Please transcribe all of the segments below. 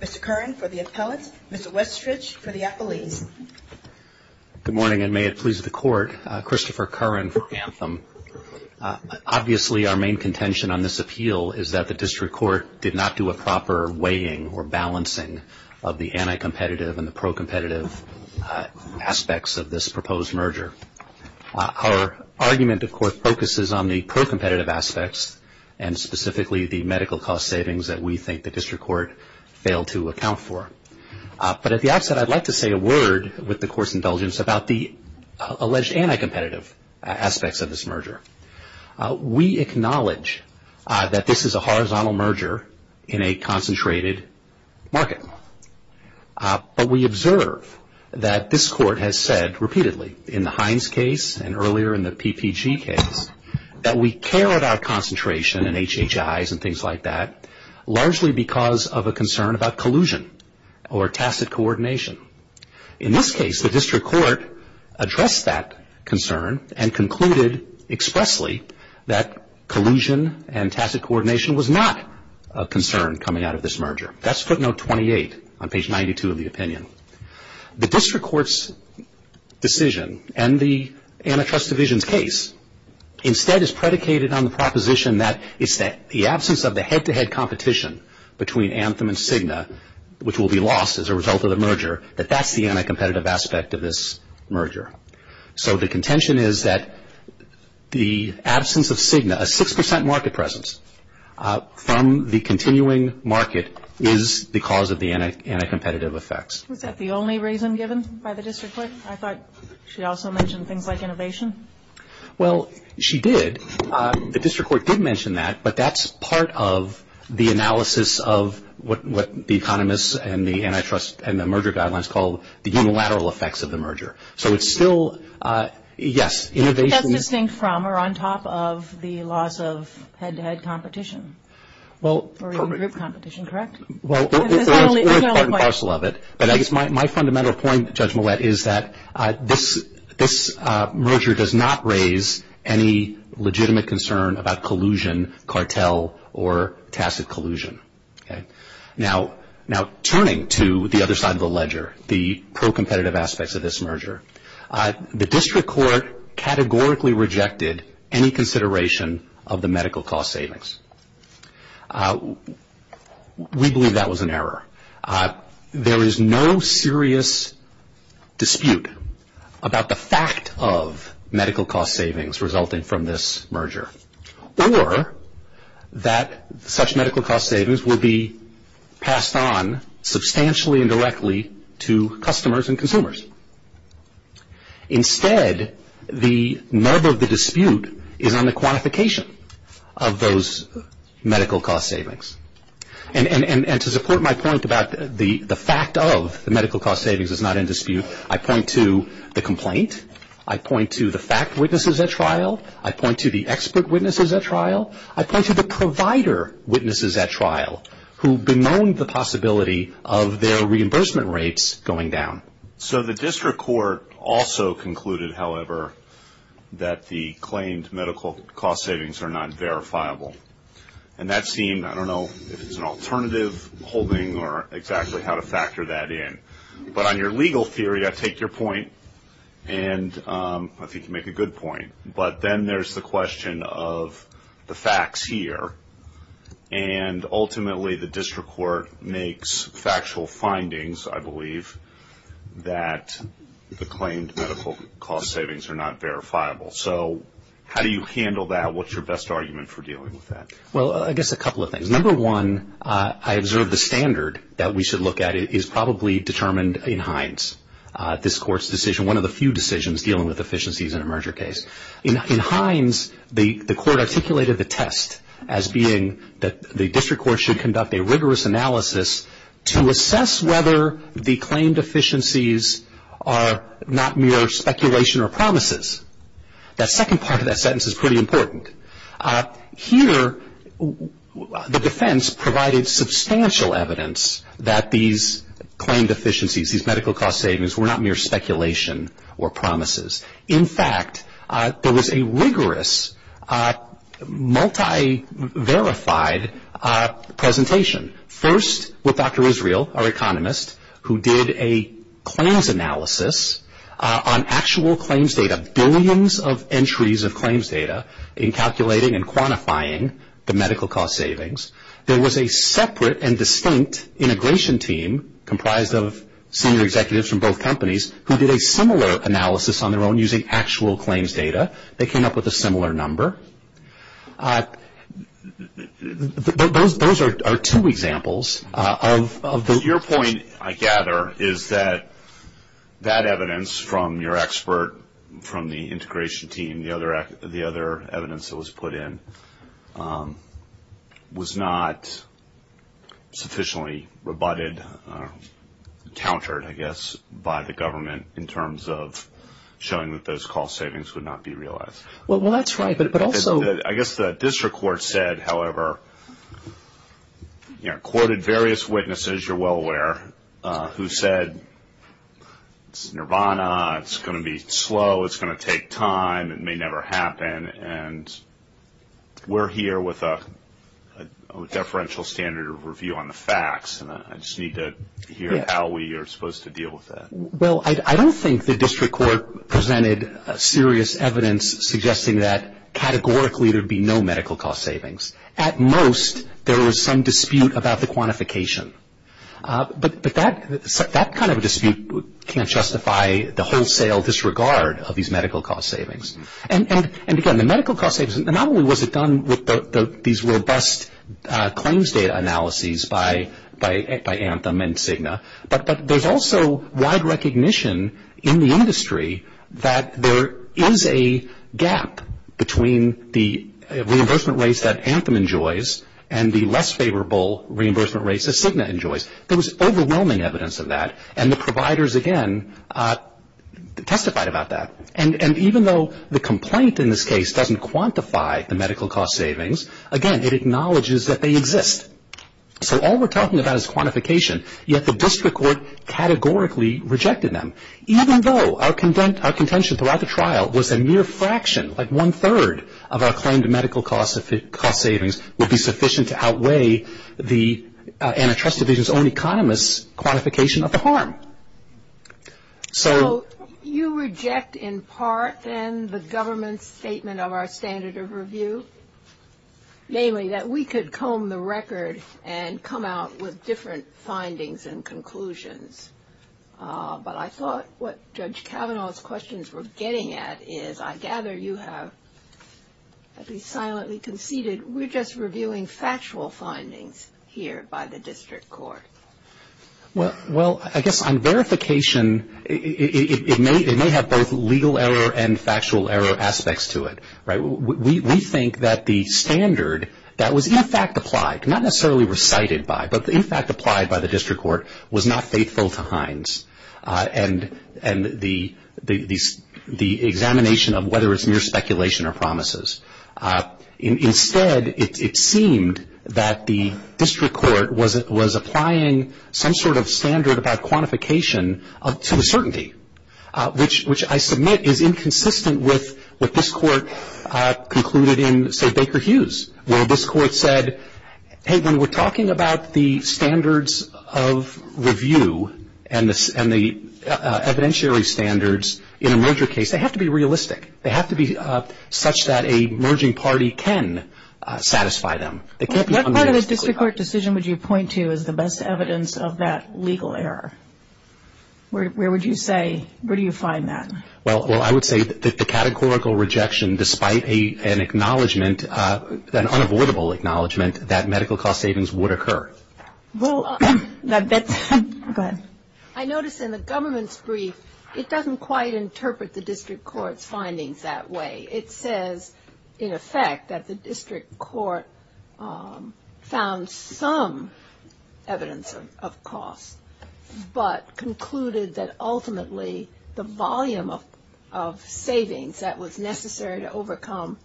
Mr. Curran for the appellate, Mr. Westridge for the appellee. Good morning and may it please the Court. Christopher Curran for Anthem. Obviously our main contention on this appeal is that the District Court did not do a proper weighing or balancing of the anti-competitive and the pro-competitive aspects of this proposed merger. Our argument of course focuses on the pro-competitive aspects and specifically the medical cost savings that we think the District Court failed to account for. But at the outset I'd like to say a word with the Court's indulgence about the alleged anti-competitive aspects of this merger. We acknowledge that this is a horizontal merger in a concentrated market. But we observe that this Court has said repeatedly in the Hines case and earlier in the PPG case that we care about concentration and HHIs and things like that largely because of a concern about collusion or tacit coordination. In this case the District Court addressed that concern and concluded expressly that collusion and tacit coordination was not a concern coming out of this merger. That's footnote 28 on page 92 of the opinion. The District Court's decision and the Antitrust Division's case instead is predicated on the proposition that it's the absence of the head-to-head competition between Anthem and Cigna which will be lost as a result of the merger that that's the anti-competitive aspect of this merger. So the contention is that the absence of Cigna, a 6% market presence from the continuing market is the cause of the anti-competitive effects. Was that the only reason given by the District Court? I thought she also mentioned things like innovation. Well, she did. The District Court did mention that, but that's part of the analysis of what the economists and the antitrust and the merger guidelines call the unilateral effects of the merger. So it's still, yes, innovation. That's distinct from or on top of the loss of head-to-head competition or even group competition, correct? My fundamental point, Judge Mouette, is that this merger does not raise any legitimate concern about collusion, cartel, or tacit collusion. Now, turning to the other side of the ledger, the pro-competitive aspects of this merger, the District Court categorically rejected any consideration of the medical cost savings. We believe that was an error. There is no serious dispute about the fact of medical cost savings resulting from this merger or that such medical cost savings will be passed on substantially and directly to customers and consumers. Instead, the nub of the dispute is on the quantification of those medical cost savings. And to support my point about the fact of the medical cost savings is not in dispute, I point to the complaint. I point to the fact witnesses at trial. I point to the expert witnesses at trial. I point to the provider witnesses at trial who bemoaned the possibility of their reimbursement rates going down. So the District Court also concluded, however, that the claimed medical cost savings are not verifiable. And that seemed, I don't know if it's an alternative holding or exactly how to factor that in. But on your legal theory, I take your point, and I think you make a good point. But then there's the question of the facts here. And ultimately, the District Court makes factual findings, I believe, that the claimed medical cost savings are not verifiable. So how do you handle that? What's your best argument for dealing with that? Well, I guess a couple of things. Number one, I observe the standard that we should look at is probably determined in Hines, this Court's decision, one of the few decisions dealing with efficiencies in a merger case. In Hines, the Court articulated the test as being that the District Court should conduct a rigorous analysis to assess whether the claimed efficiencies are not mere speculation or promises. That second part of that sentence is pretty important. Here, the defense provided substantial evidence that these claimed efficiencies, these medical cost savings, were not mere speculation or promises. In fact, there was a rigorous, multi-verified presentation, first with Dr. Israel, our economist, who did a claims analysis on actual claims data, billions of entries of claims data, in calculating and quantifying the medical cost savings. There was a separate and distinct integration team comprised of senior executives from both companies who did a similar analysis on their own using actual claims data. They came up with a similar number. Those are two examples of the- Your point, I gather, is that that evidence from your expert, from the integration team, the other evidence that was put in, was not sufficiently rebutted, countered, I guess, by the government in terms of showing that those cost savings would not be realized. Well, that's right, but also- I guess the District Court said, however, courted various witnesses, you're well aware, who said it's nirvana, it's going to be slow, it's going to take time, it may never happen, and we're here with a deferential standard of review on the facts, and I just need to hear how we are supposed to deal with that. Well, I don't think the District Court presented serious evidence suggesting that, categorically, there would be no medical cost savings. At most, there was some dispute about the quantification, but that kind of a dispute can't justify the wholesale disregard of these medical cost savings. And, again, the medical cost savings, not only was it done with these robust claims data analyses by Anthem and Cigna, but there's also wide recognition in the industry that there is a gap between the reimbursement rates that Anthem enjoys and the less favorable reimbursement rates that Cigna enjoys. There was overwhelming evidence of that, and the providers, again, testified about that. And even though the complaint in this case doesn't quantify the medical cost savings, again, it acknowledges that they exist. So all we're talking about is quantification, yet the District Court categorically rejected them. Even though our contention throughout the trial was a mere fraction, like one-third of our claim to medical cost savings would be sufficient to outweigh the antitrust division's own economist's quantification of the harm. So you reject, in part, then, the government's statement of our standard of review, namely that we could comb the record and come out with different findings and conclusions. But I thought what Judge Kavanaugh's questions were getting at is, I gather you have, as he silently conceded, we're just reviewing factual findings here by the District Court. Well, I guess on verification, it may have both legal error and factual error aspects to it. We think that the standard that was, in fact, applied, not necessarily recited by, but, in fact, applied by the District Court was not faithful to Hines and the examination of whether it's mere speculation or promises. Instead, it seemed that the District Court was applying some sort of standard about quantification to uncertainty, which I submit is inconsistent with what this court concluded in, say, Baker Hughes, where this court said, hey, when we're talking about the standards of review and the evidentiary standards in a merger case, they have to be realistic. They have to be such that a merging party can satisfy them. What part of the District Court decision would you point to as the best evidence of that legal error? Where would you say, where do you find that? Well, I would say that the categorical rejection, despite an acknowledgment, an unavoidable acknowledgment that medical cost savings would occur. I notice in the government's brief, it doesn't quite interpret the District Court's findings that way. It says, in effect, that the District Court found some evidence of cost, but concluded that ultimately the volume of savings that was necessary to overcome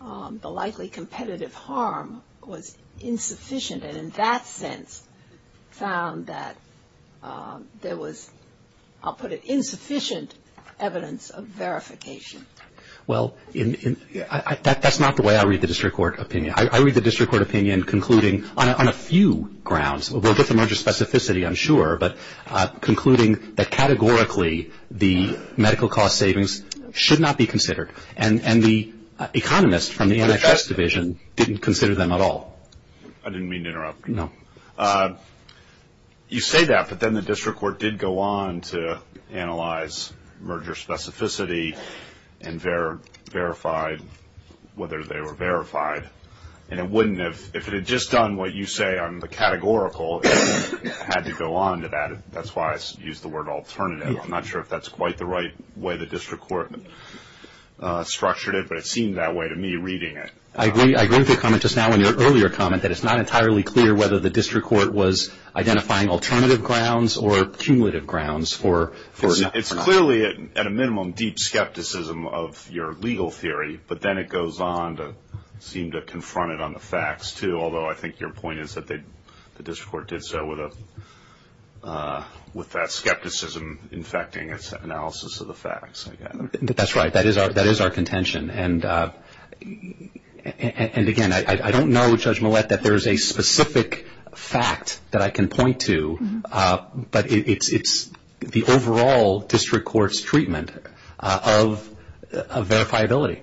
the likely competitive harm was insufficient, and in that sense found that there was, I'll put it, insufficient evidence of verification. Well, that's not the way I read the District Court opinion. I read the District Court opinion concluding on a few grounds. We'll get to merger specificity, I'm sure, but concluding that categorically the medical cost savings should not be considered, and the economists from the NHS Division didn't consider them at all. I didn't mean to interrupt you. No. You say that, but then the District Court did go on to analyze merger specificity and verified whether they were verified, and it wouldn't have, if it had just done what you say on the categorical, it would have had to go on to add it. That's why I used the word alternative. I'm not sure if that's quite the right way the District Court structured it, but it seemed that way to me reading it. I agree with your comment just now and your earlier comment that it's not entirely clear whether the District Court was identifying alternative grounds or cumulative grounds for not. It's clearly, at a minimum, deep skepticism of your legal theory, but then it goes on to seem to confront it on the facts, too, although I think your point is that the District Court did so with that skepticism infecting its analysis of the facts. That's right. That is our contention. And, again, I don't know, Judge Millett, that there is a specific fact that I can point to, but it's the overall District Court's treatment of verifiability.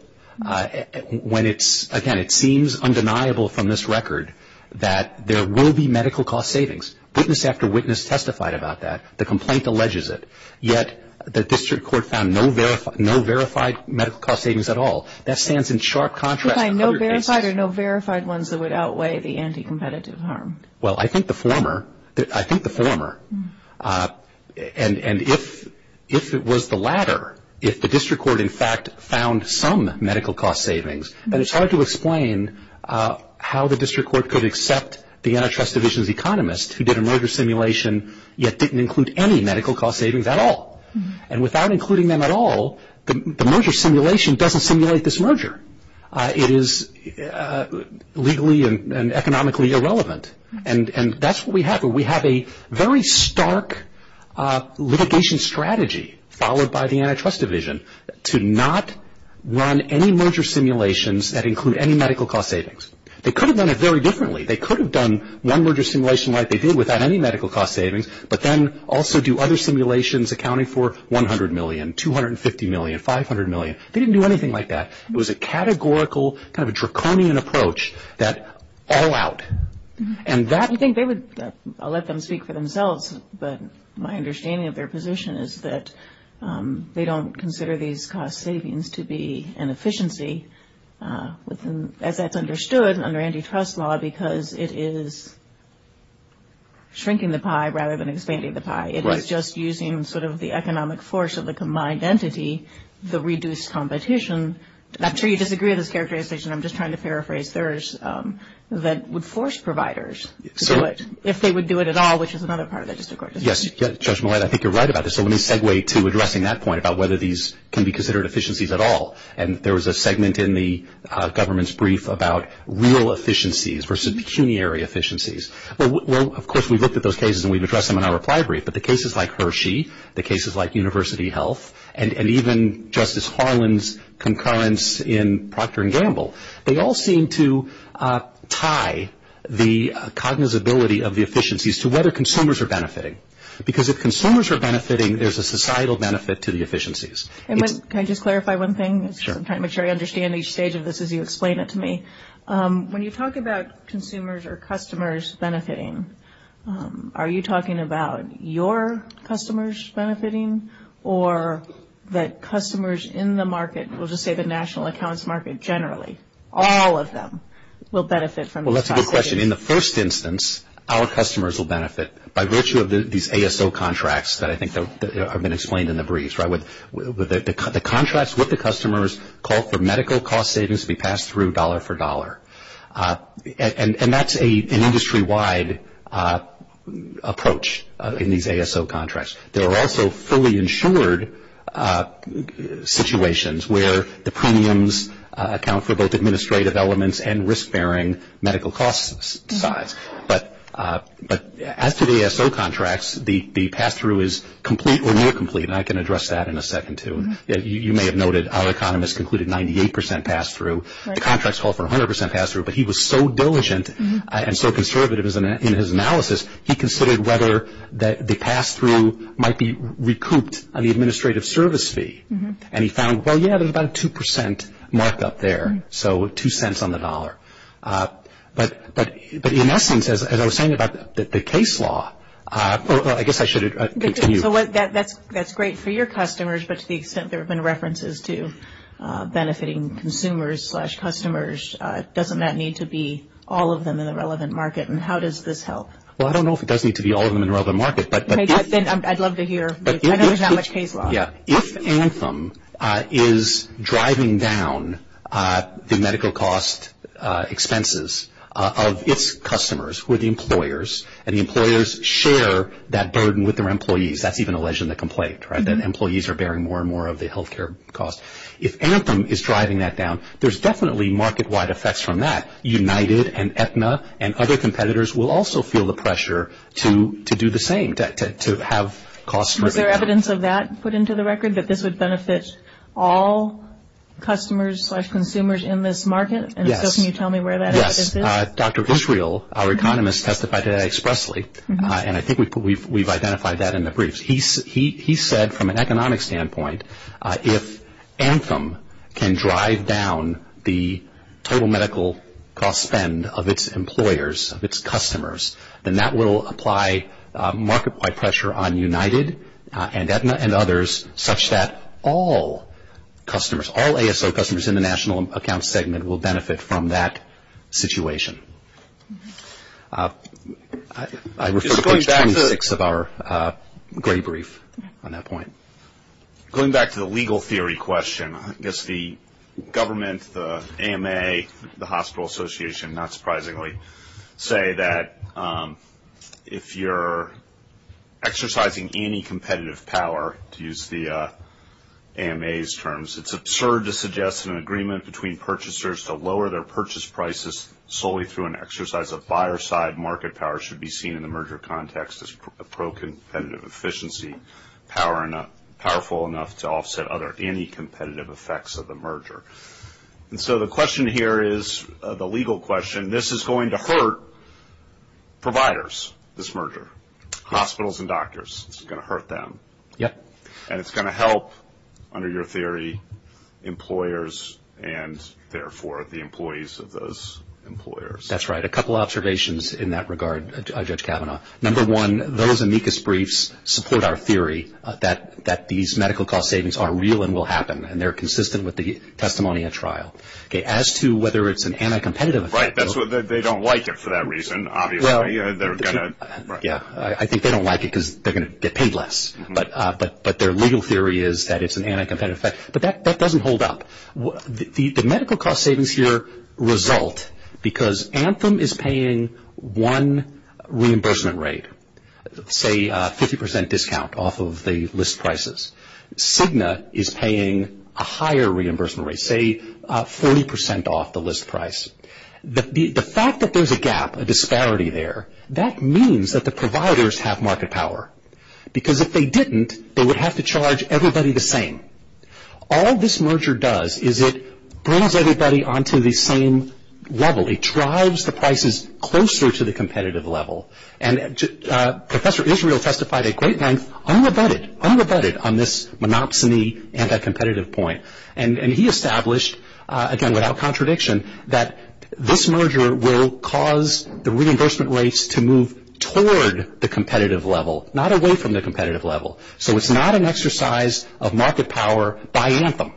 When it's, again, it seems undeniable from this record that there will be medical cost savings. Witness after witness testified about that. The complaint alleges it. Yet the District Court found no verified medical cost savings at all. That stands in sharp contrast to other cases. No verified or no verified ones that would outweigh the anti-competitive harm. Well, I think the former. I think the former. And if it was the latter, if the District Court, in fact, found some medical cost savings, then it's hard to explain how the District Court could accept the antitrust division's economist who did a merger simulation yet didn't include any medical cost savings at all. And without including them at all, the merger simulation doesn't simulate this merger. It is legally and economically irrelevant, and that's what we have. We have a very stark litigation strategy followed by the antitrust division to not run any merger simulations that include any medical cost savings. They could have done it very differently. They could have done one merger simulation like they did without any medical cost savings, but then also do other simulations accounting for $100 million, $250 million, $500 million. They didn't do anything like that. It was a categorical, kind of a draconian approach, that all out. I'll let them speak for themselves, but my understanding of their position is that they don't consider these cost savings to be an efficiency as that's understood under antitrust law because it is shrinking the pie rather than expanding the pie. It is just using sort of the economic force of the combined entity to reduce competition. I'm sure you disagree with this characterization. I'm just trying to paraphrase theirs that would force providers to do it if they would do it at all, which is another part of this, of course. Yes, Judge Millett, I think you're right about this. I want to segue to addressing that point about whether these can be considered efficiencies at all, and there was a segment in the government's brief about real efficiencies versus pecuniary efficiencies. Of course, we looked at those cases and we've addressed them in our reply brief, but the cases like Hershey, the cases like University Health, and even Justice Harlan's concurrence in Procter & Gamble, they all seem to tie the cognizability of the efficiencies to whether consumers are benefiting because if consumers are benefiting, there's a societal benefit to the efficiencies. Can I just clarify one thing? Sure. I'm trying to make sure I understand each stage of this as you explain it to me. When you talk about consumers or customers benefiting, are you talking about your customers benefiting or that customers in the market, we'll just say the national accounts market generally, all of them will benefit from this? Well, that's a good question. In the first instance, our customers will benefit by virtue of these ASO contracts that I think have been explained in the briefs. The contracts with the customers call for medical cost savings to be passed through dollar for dollar, and that's an industry-wide approach in these ASO contracts. There are also fully insured situations where the premiums account for both administrative elements and risk-bearing medical costs. But as to the ASO contracts, the pass-through is complete or near complete, and I can address that in a second, too. You may have noted our economist concluded 98% pass-through. Contracts call for 100% pass-through, but he was so diligent and so conservative in his analysis, he considered whether the pass-through might be recouped on the administrative service fee, and he found, well, yeah, there's about a 2% markup there, so two cents on the dollar. But in essence, as I was saying about the case law, I guess I should continue. That's great for your customers, but to the extent there have been references to benefiting consumers slash customers, doesn't that need to be all of them in the relevant market, and how does this help? Well, I don't know if it does need to be all of them in the relevant market. I'd love to hear. I don't know how much case law. Yeah. If Anthem is driving down the medical cost expenses of its customers, who are the employers, and the employers share that burden with their employees, that's even alleged in the complaint, right, that employees are bearing more and more of the health care costs. If Anthem is driving that down, there's definitely market-wide effects from that. United and Aetna and other competitors will also feel the pressure to do the same, to have costs. Was there evidence of that put into the record, that this would benefit all customers slash consumers in this market? Yes. And can you tell me where that is? Yes. Dr. Israel, our economist, testified to that expressly, and I think we've identified that in the briefs. He said, from an economic standpoint, if Anthem can drive down the total medical cost spend of its employers, of its customers, then that will apply market-wide pressure on United and Aetna and others, such that all customers, all ASO customers in the national accounts segment will benefit from that situation. I refer to question six of our gray brief on that point. Going back to the legal theory question, I guess the government, the AMA, the Hospital Association, not surprisingly, say that if you're exercising anti-competitive power, to use the AMA's terms, it's absurd to suggest an agreement between purchasers to lower their purchase prices solely through an exercise of buyer-side market power should be seen in the merger context as pro-competitive efficiency, powerful enough to offset other anti-competitive effects of the merger. So the question here is the legal question. This is going to hurt providers, this merger, hospitals and doctors. It's going to hurt them. And it's going to help, under your theory, employers and, therefore, the employees of those employers. That's right. A couple observations in that regard, Judge Kavanaugh. Number one, those amicus briefs support our theory that these medical cost savings are real and will happen, and they're consistent with the testimony at trial. As to whether it's an anti-competitive effect. Right. They don't like it for that reason, obviously. I think they don't like it because they're going to get paid less. But their legal theory is that it's an anti-competitive effect. But that doesn't hold up. The medical cost savings here result because Anthem is paying one reimbursement rate, say 50% discount off of the list prices. Cigna is paying a higher reimbursement rate, say 40% off the list price. The fact that there's a gap, a disparity there, that means that the providers have market power. Because if they didn't, they would have to charge everybody the same. All this merger does is it brings everybody onto the same level. It drives the prices closer to the competitive level. And Professor Israel testified a great length, unabutted, unabutted on this monopsony anti-competitive point. And he established, again without contradiction, that this merger will cause the reimbursement rates to move toward the competitive level, not away from the competitive level. So it's not an exercise of market power by Anthem.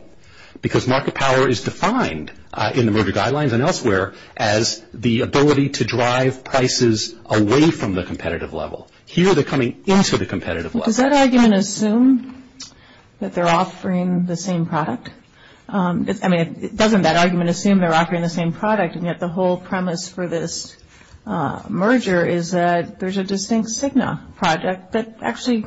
Because market power is defined in the merger guidelines and elsewhere as the ability to drive prices away from the competitive level. Here they're coming into the competitive level. Does that argument assume that they're offering the same product? I mean, doesn't that argument assume they're offering the same product and yet the whole premise for this merger is that there's a distinct Cigna project that actually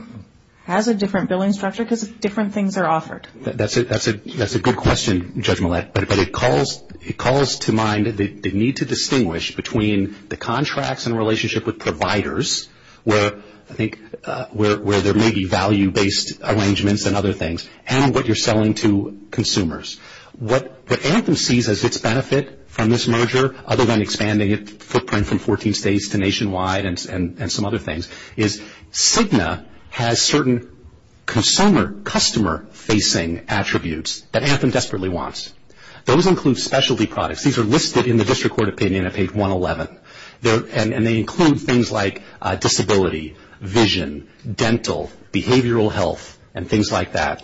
has a different billing structure because different things are offered. That's a good question, Judge Millett. But it calls to mind the need to distinguish between the contracts in relationship with providers, where I think there may be value-based arrangements and other things, and what you're selling to consumers. What Anthem sees as its benefit from this merger, other than expanding its footprint from 14 states to nationwide and some other things, is Cigna has certain customer-facing attributes that Anthem desperately wants. Those include specialty products. These are listed in the district court opinion at page 111. And they include things like disability, vision, dental, behavioral health, and things like that.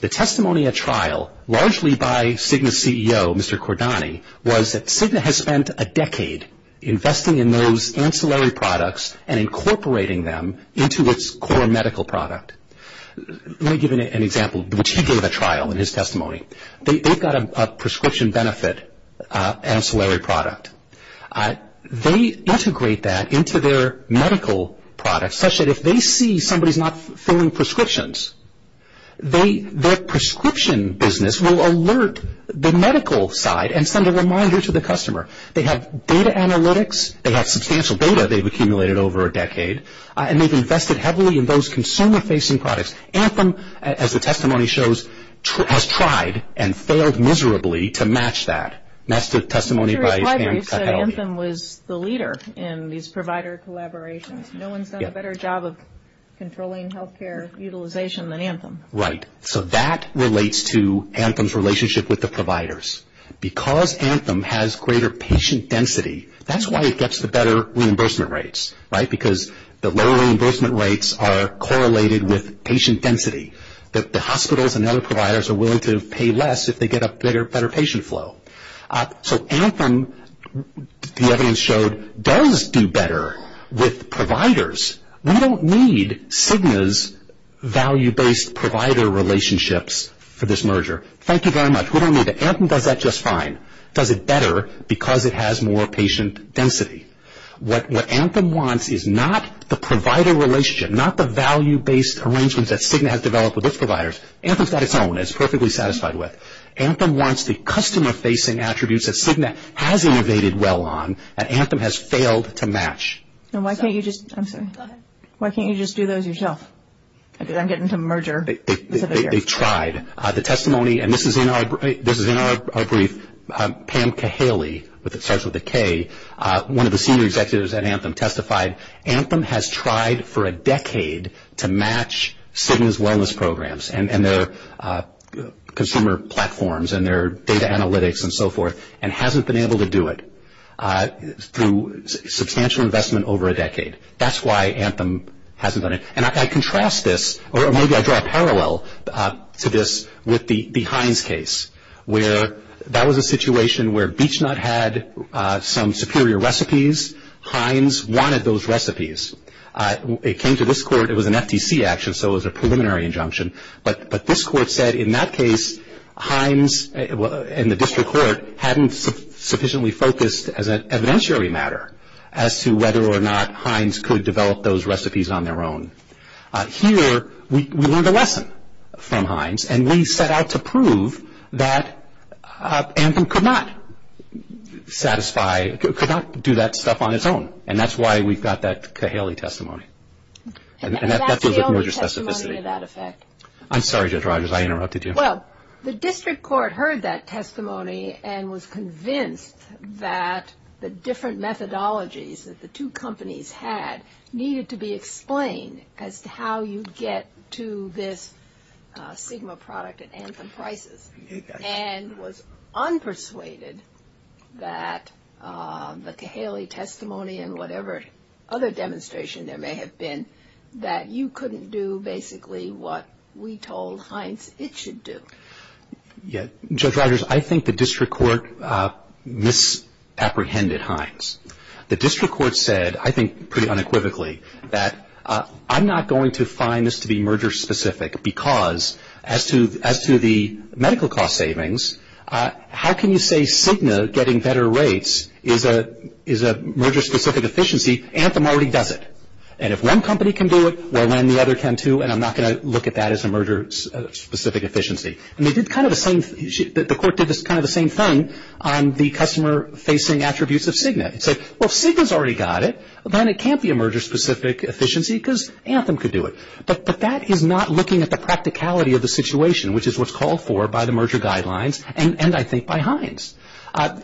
The testimony at trial, largely by Cigna's CEO, Mr. Cordani, was that Cigna has spent a decade investing in those ancillary products and incorporating them into its core medical product. Let me give you an example, which he gave at trial in his testimony. They've got a prescription benefit ancillary product. They integrate that into their medical products, such that if they see somebody's not filling prescriptions, their prescription business will alert the medical side and send a reminder to the customer. They have data analytics. They have substantial data they've accumulated over a decade. And they've invested heavily in those consumer-facing products. Anthem, as the testimony shows, has tried and failed miserably to match that. That's the testimony by Pam Cahal. Anthem was the leader in these provider collaborations. No one's done a better job of controlling health care utilization than Anthem. Right. So that relates to Anthem's relationship with the providers. Because Anthem has greater patient density, that's why it gets the better reimbursement rates, right, because the lower reimbursement rates are correlated with patient density. The hospitals and other providers are willing to pay less if they get a better patient flow. So Anthem, the evidence showed, does do better with providers. We don't need Cigna's value-based provider relationships for this merger. Thank you very much. We don't need it. Anthem does that just fine. It does it better because it has more patient density. What Anthem wants is not the provider relationship, not the value-based arrangement that Cigna has developed with its providers. Anthem's got its own. It's perfectly satisfied with. Anthem wants the customer-facing attributes that Cigna has innovated well on that Anthem has failed to match. And why can't you just do those yourself? I think I'm getting to merger. They've tried. The testimony, and this is in our brief, Pam Cahaley, which starts with a K, one of the senior executives at Anthem testified, Anthem has tried for a decade to match Cigna's wellness programs, and their consumer platforms, and their data analytics, and so forth, and hasn't been able to do it through substantial investment over a decade. That's why Anthem hasn't done it. And I contrast this, or maybe I draw a parallel to this with the Heinz case, where that was a situation where BeechNut had some superior recipes. Heinz wanted those recipes. It came to this court. It was an FTC action, so it was a preliminary injunction. But this court said, in that case, Heinz and the district court hadn't sufficiently focused as an evidentiary matter as to whether or not Heinz could develop those recipes on their own. Here we learned a lesson from Heinz, and we set out to prove that Anthem could not satisfy, could not do that stuff on its own. And that's why we got that Cahaley testimony. And that's the only testimony of that effect. I'm sorry, Judge Rogers, I interrupted you. Well, the district court heard that testimony and was convinced that the different methodologies that the two companies had needed to be explained as to how you get to this Cigna product at Anthem prices, and was unpersuaded that the Cahaley testimony and whatever other demonstration there may have been, that you couldn't do basically what we told Heinz it should do. Yes. Judge Rogers, I think the district court misapprehended Heinz. The district court said, I think pretty unequivocally, that I'm not going to find this to be merger-specific because as to the medical cost savings, how can you say Cigna getting better rates is a merger-specific efficiency? Anthem already does it. And if one company can do it, well, then the other can too, and I'm not going to look at that as a merger-specific efficiency. And they did kind of the same, the court did kind of the same thing on the customer-facing attributes of Cigna. It said, well, if Cigna's already got it, then it can't be a merger-specific efficiency because Anthem could do it. But that is not looking at the practicality of the situation, which is what's called for by the merger guidelines and, I think, by Heinz.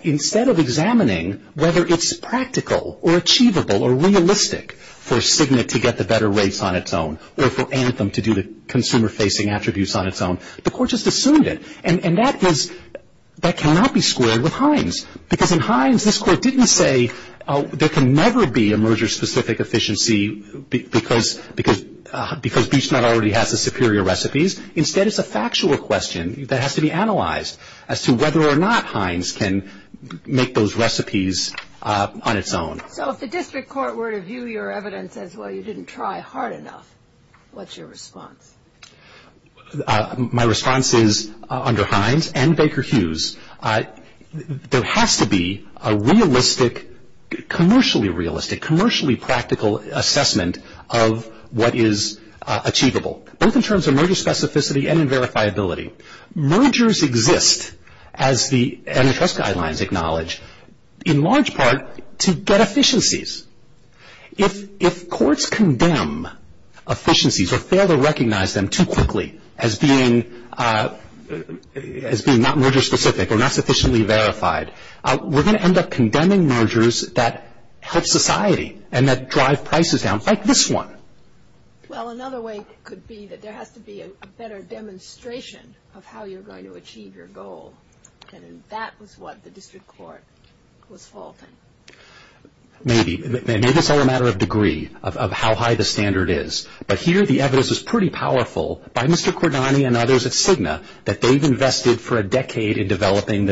Instead of examining whether it's practical or achievable or realistic for Cigna to get the better rates on its own or for Anthem to do the consumer-facing attributes on its own, the court just assumed it. And that cannot be squared with Heinz because in Heinz, this court didn't say, there can never be a merger-specific efficiency because BeechNet already has the superior recipes. Instead, it's a factual question that has to be analyzed as to whether or not Heinz can make those recipes on its own. So if the district court were to view your evidence as, well, you didn't try hard enough, what's your response? My response is, under Heinz and Baker Hughes, there has to be a realistic, commercially realistic, commercially practical assessment of what is achievable, both in terms of merger specificity and verifiability. Mergers exist, as the NFS guidelines acknowledge, in large part to get efficiencies. If courts condemn efficiencies or fail to recognize them too quickly as being not merger specific or not sufficiently verified, we're going to end up condemning mergers that help society and that drive prices down, like this one. Well, another way could be that there has to be a better demonstration of how you're going to achieve your goal, and that was what the district court was faulting. Maybe. Maybe it's all a matter of degree of how high the standard is, but here the evidence is pretty powerful by Mr. Cordani and others at Cigna that they've invested for a decade in developing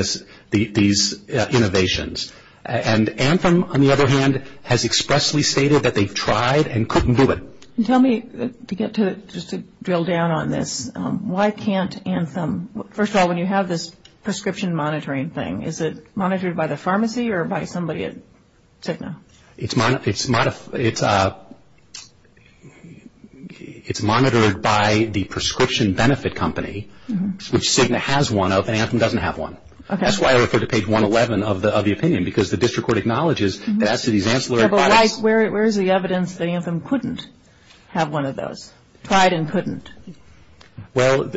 these innovations. And Anthem, on the other hand, has expressly stated that they've tried and couldn't do it. Tell me, just to drill down on this, why can't Anthem, first of all, when you have this prescription monitoring thing, is it monitored by the pharmacy or by somebody at Cigna? It's monitored by the prescription benefit company, which Cigna has one of and Anthem doesn't have one. Okay. That's why I referred to page 111 of the opinion, because the district court acknowledges that as to these ancillary... But where is the evidence that Anthem couldn't have one of those, tried and couldn't? Well,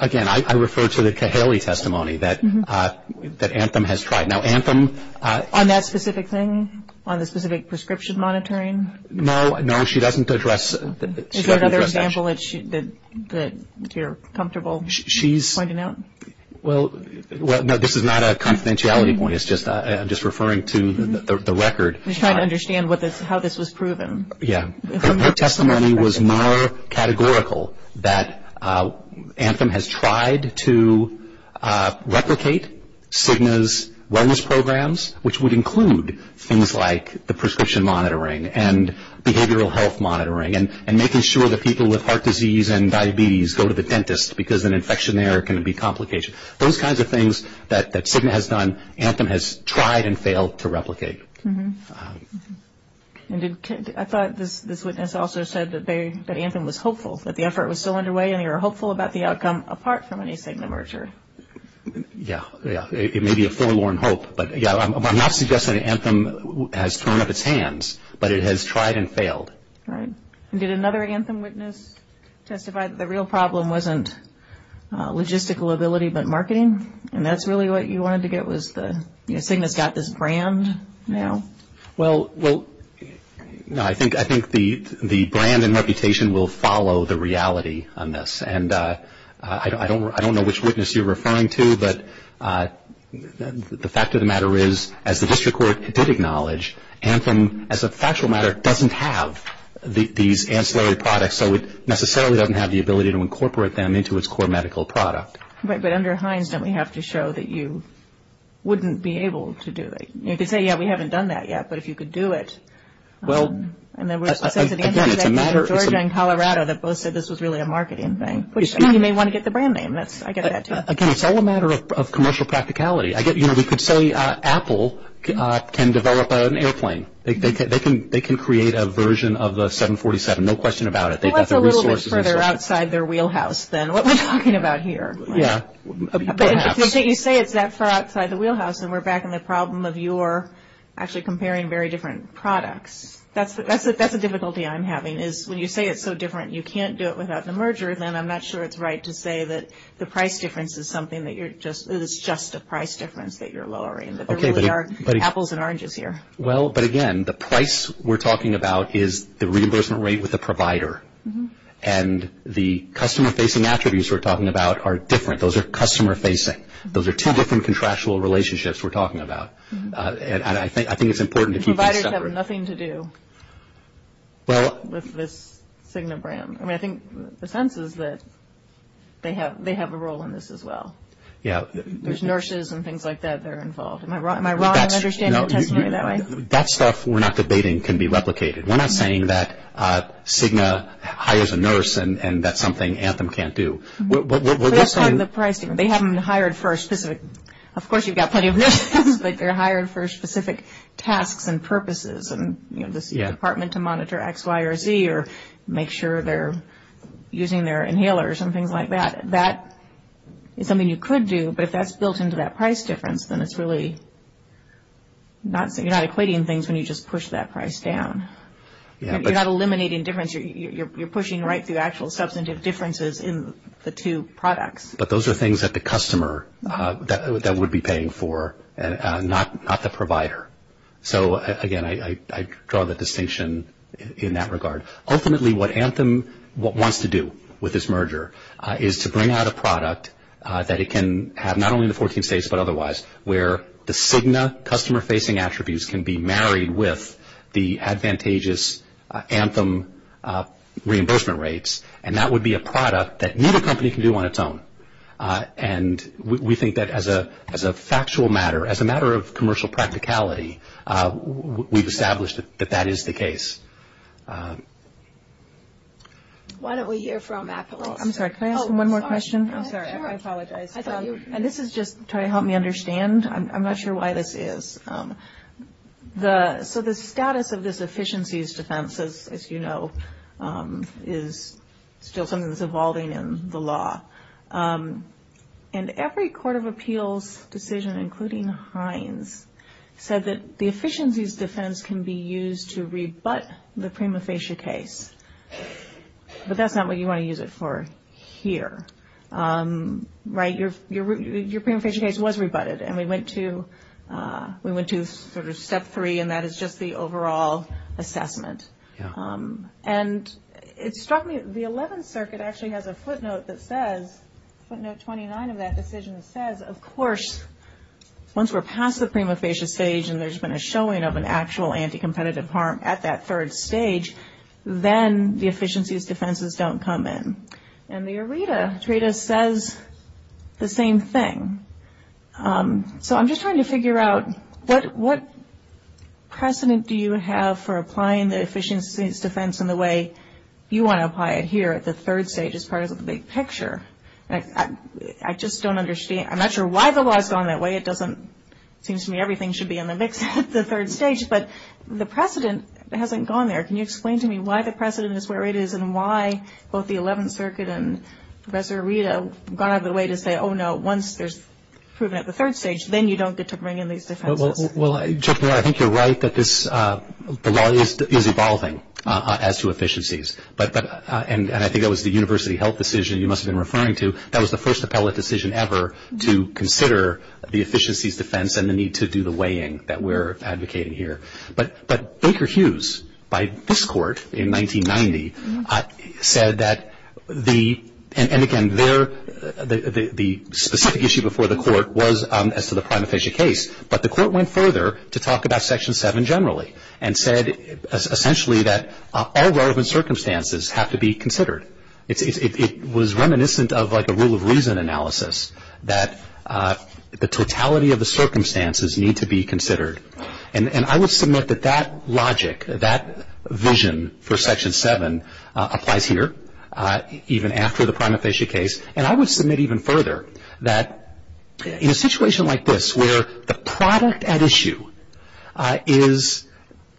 again, I referred to the Cahaley testimony that Anthem has tried. Now, Anthem... On that specific thing, on the specific prescription monitoring? No, no, she doesn't address... Is there another example that you're comfortable pointing out? Well, no, this is not a confidentiality point. It's just referring to the record. She's trying to understand how this was proven. Her testimony was more categorical that Anthem has tried to replicate Cigna's wellness programs, which would include things like the prescription monitoring and behavioral health monitoring and making sure that people with heart disease and diabetes go to the dentist, because an infection there can be complicated. Those kinds of things that Cigna has done, Anthem has tried and failed to replicate. I thought this witness also said that Anthem was hopeful, that the effort was still underway and you're hopeful about the outcome apart from any Cigna mergers. Yeah, yeah. It may be a forlorn hope, but, yeah, I'm not suggesting Anthem has turned up its hands, but it has tried and failed. Right. Did another Anthem witness testify that the real problem wasn't logistical ability but marketing? And that's really what you wanted to get was the... Well, I think the brand and reputation will follow the reality on this, and I don't know which witness you're referring to, but the fact of the matter is, as the district court did acknowledge, Anthem, as a factual matter, doesn't have these ancillary products, so it necessarily doesn't have the ability to incorporate them into its core medical product. Right, but under Hines, then we have to show that you wouldn't be able to do it. You could say, yeah, we haven't done that yet, but if you could do it. Well, again, it's a matter... Georgia and Colorado that both said this was really a marketing thing. You may want to get the brand name. Again, it's all a matter of commercial practicality. We could say Apple can develop an airplane. They can create a version of the 747, no question about it. Well, that's a little bit further outside their wheelhouse than what we're talking about here. Yeah. You say it's that far outside the wheelhouse, and we're back in the problem of your actually comparing very different products. That's a difficulty I'm having is when you say it's so different, you can't do it without the merger, then I'm not sure it's right to say that the price difference is something that you're just, it is just a price difference that you're lowering, that there really are apples and oranges here. Well, but again, the price we're talking about is the reimbursement rate with the provider, and the customer-facing attributes we're talking about are different. Those are customer-facing. Those are two different contractual relationships we're talking about, and I think it's important to keep that separate. Providers have nothing to do with this Cigna brand. I mean, I think the sense is that they have a role in this as well. Yeah. There's nurses and things like that that are involved. Am I wrong in understanding what you're saying that way? That stuff we're not debating can be replicated. We're not saying that Cigna hires a nurse and that's something Anthem can't do. That's not the pricing. They haven't hired for a specific – of course, you've got plenty of nurses, but they're hired for specific tasks and purposes, and the department to monitor X, Y, or Z, or make sure they're using their inhaler or something like that. That is something you could do, but if that's built into that price difference, then it's really not – you're not equating things when you just push that price down. You're not eliminating difference. You're pushing right through actual substantive differences in the two products. But those are things that the customer would be paying for, not the provider. So, again, I draw the distinction in that regard. Ultimately, what Anthem wants to do with this merger is to bring out a product that it can have, not only in the 14 states but otherwise, where the Cigna customer-facing attributes can be married with the advantageous Anthem reimbursement rates, and that would be a product that neither company can do on its own. And we think that as a factual matter, as a matter of commercial practicality, we've established that that is the case. Why don't we hear from Ashley? I'm sorry, can I ask one more question? I'm sorry, I apologize. This is just trying to help me understand. I'm not sure why this is. So, the status of this efficiencies defense, as you know, is still something that's evolving in the law. And every court of appeals decision, including Hines, said that the efficiencies defense can be used to rebut the prima facie case. But that's not what you want to use it for here. Right? Your prima facie case was rebutted, and we went to sort of step three, and that is just the overall assessment. And it struck me, the 11th Circuit actually has a footnote that says, footnote 29 of that decision says, of course, once we're past the prima facie stage and there's been a showing of an actual anti-competitive harm at that third stage, then the efficiencies defenses don't come in. And the ERETA says the same thing. So, I'm just trying to figure out what precedent do you have for applying the efficiencies defense in the way you want to apply it here at this third stage as part of the big picture? I just don't understand. I'm not sure why the law has gone that way. It doesn't seem to me everything should be in the mix at the third stage. But the precedent hasn't gone there. Can you explain to me why the precedent is where it is and why both the 11th Circuit and Professor ERETA have gone out of their way to say, oh, no, once there's proven at the third stage, then you don't get to bring in these defenses? Well, Judge, I think you're right that the law is evolving as to efficiencies. And I think that was the university health decision you must have been referring to. That was the first appellate decision ever to consider the efficiencies defense and the need to do the weighing that we're advocating here. But Baker Hughes, by this court in 1990, said that the – and, again, the specific issue before the court was as to the prima facie case, but the court went further to talk about Section 7 generally and said essentially that all relevant circumstances have to be considered. It was reminiscent of like a rule of reason analysis And I would submit that that logic, that vision for Section 7 applies here, even after the prima facie case. And I would submit even further that in a situation like this where the product at issue is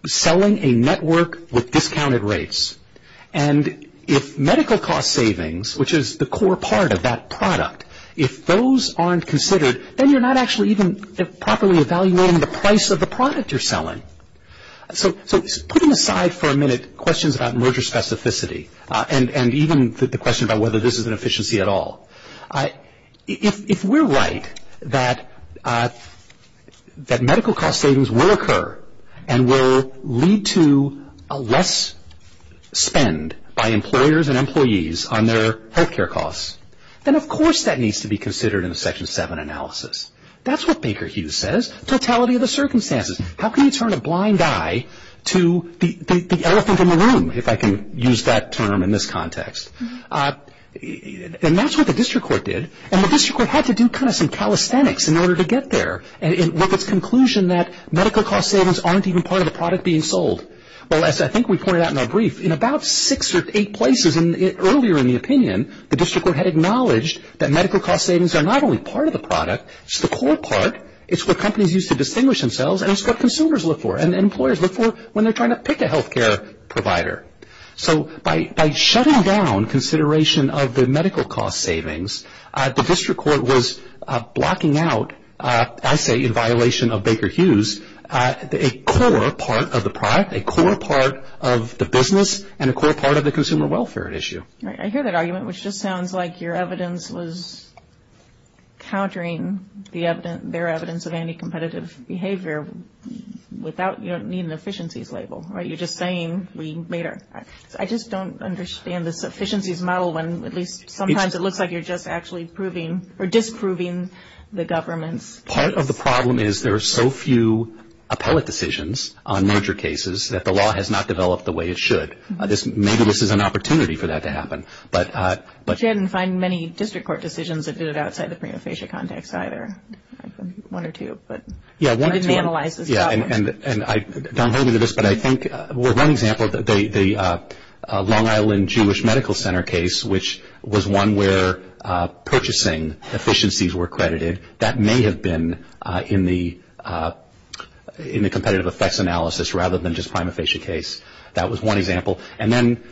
selling a network with discounted rates, and if medical cost savings, which is the core part of that product, if those aren't considered, then you're not actually even properly evaluating the price of the product you're selling. So putting aside for a minute questions about merger specificity and even the question about whether this is an efficiency at all, if we're right that medical cost savings will occur and will lead to less spend by employers and employees on their health care costs, then, of course, that needs to be considered in the Section 7 analysis. That's what Baker Hughes says, totality of the circumstances. How can you turn a blind eye to the elephant in the room, if I can use that term in this context? And that's what the district court did, and the district court had to do kind of some calisthenics in order to get there with its conclusion that medical cost savings aren't even part of the product being sold. Well, as I think we pointed out in our brief, in about six or eight places earlier in the opinion, the district court had acknowledged that medical cost savings are not only part of the product, it's the core part, it's what companies use to distinguish themselves, and it's what consumers look for and employers look for when they're trying to pick a health care provider. So by shutting down consideration of the medical cost savings, the district court was blocking out, I say in violation of Baker Hughes, a core part of the product, a core part of the business, and a core part of the consumer welfare issue. I hear that argument, which just sounds like your evidence was countering their evidence of any competitive behavior without needing an efficiencies label, right? You're just saying, I just don't understand this efficiencies model, when at least sometimes it looks like you're just actually disproving the government. Part of the problem is there are so few appellate decisions on major cases that the law has not developed the way it should. Maybe this is an opportunity for that to happen. We didn't find many district court decisions that did it outside the prima facie context either. One or two, but we didn't analyze it. Don't hold me to this, but I think one example of the Long Island Jewish Medical Center case, which was one where purchasing efficiencies were credited, that may have been in the competitive effects analysis rather than just prima facie case. That was one example. And then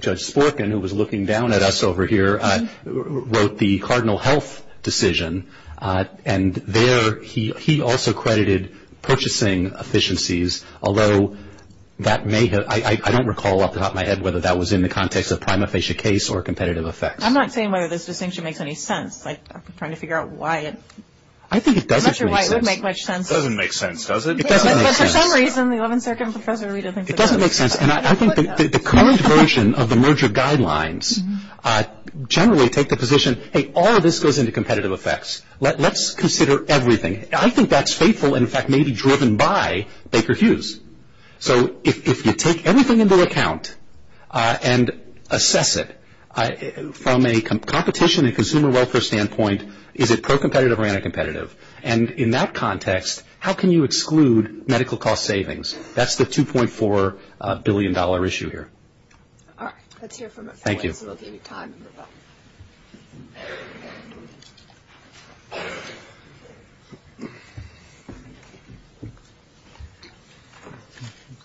Judge Sporkin, who was looking down at us over here, wrote the Cardinal Health decision, and there he also credited purchasing efficiencies, although that may have, I don't recall off the top of my head whether that was in the context of prima facie case or competitive effects. I'm not saying whether this distinction makes any sense. I'm just trying to figure out why it would make much sense. It doesn't make sense, does it? It doesn't make sense. But for some reason the 11th Circumstance Procedure really doesn't. It doesn't make sense. And I think the current version of the merger guidelines generally take the position, hey, all of this goes into competitive effects. Let's consider everything. I think that's faithful and, in fact, maybe driven by Baker Hughes. So if you take everything into account and assess it from a competition and consumer welfare standpoint, is it pro-competitive or anti-competitive? And in that context, how can you exclude medical cost savings? That's the $2.4 billion issue here. All right. Let's hear from the panel. Thank you.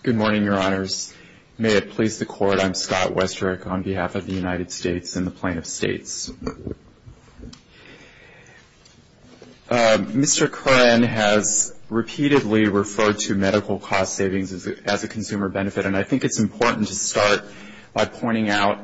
Good morning, Your Honors. May it please the Court, I'm Scott Westrick on behalf of the United States and the plaintiffs' states. Mr. Curran has repeatedly referred to medical cost savings as a consumer benefit, and I think it's important to start by pointing out,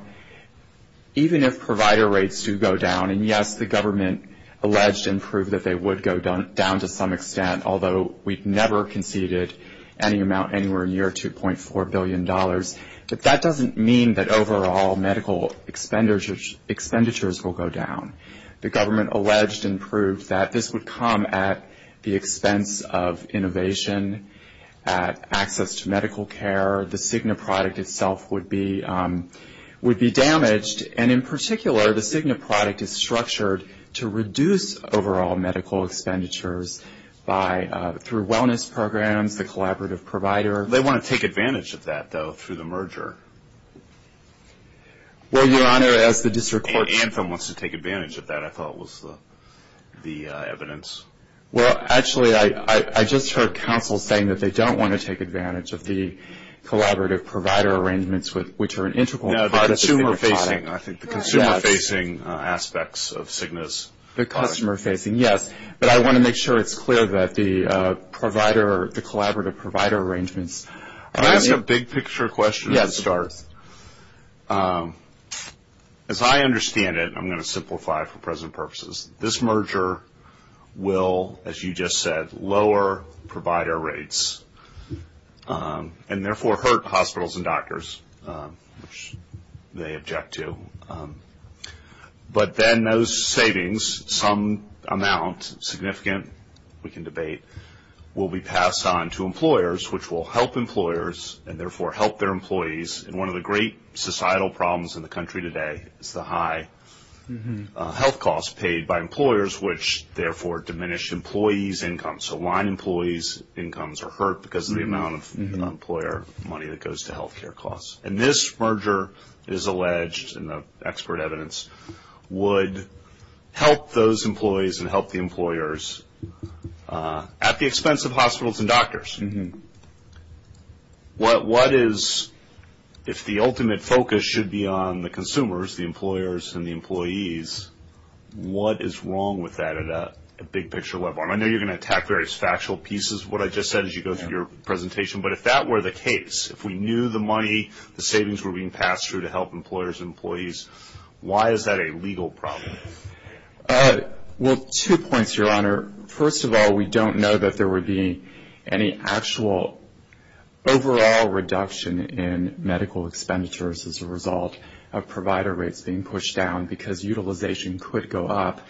even if provider rates do go down, and, yes, the government alleged and proved that they would go down to some extent, although we've never conceded any amount anywhere near $2.4 billion, but that doesn't mean that overall medical expenditures will go down. The government alleged and proved that this would come at the expense of innovation, at access to medical care, the Cigna product itself would be damaged, and in particular, the Cigna product is structured to reduce overall medical expenditures through wellness programs, the collaborative provider. They want to take advantage of that, though, through the merger. Well, Your Honor, as the district court- Anthem wants to take advantage of that, I thought was the evidence. Well, actually, I just heard counsel saying that they don't want to take advantage of the collaborative provider arrangements, which are an integral part of the Cigna product. No, the consumer-facing, I think, the consumer-facing aspects of Cigna's product. The customer-facing, yes, but I want to make sure it's clear that the provider, the collaborative provider arrangements- Can I ask a big-picture question to start? Yes. As I understand it, and I'm going to simplify it for present purposes, this merger will, as you just said, lower provider rates, and therefore hurt hospitals and doctors, which they object to. But then those savings, some amount, significant, we can debate, will be passed on to employers, which will help employers, and therefore help their employees in one of the great societal problems in the country today, the high health costs paid by employers, which, therefore, diminish employees' incomes. So line employees' incomes are hurt because of the amount of employer money that goes to health care costs. And this merger is alleged, and the expert evidence would help those employees and help the employers at the expense of hospitals and doctors. What is, if the ultimate focus should be on the consumers, the employers and the employees, what is wrong with that at a big-picture level? I know you're going to attack various factual pieces of what I just said as you go through your presentation, but if that were the case, if we knew the money, the savings were being passed through to help employers and employees, why is that a legal problem? Well, two points, Your Honor. First of all, we don't know that there would be any actual overall reduction in medical expenses as a result of provider rates being pushed down, because utilization could go up.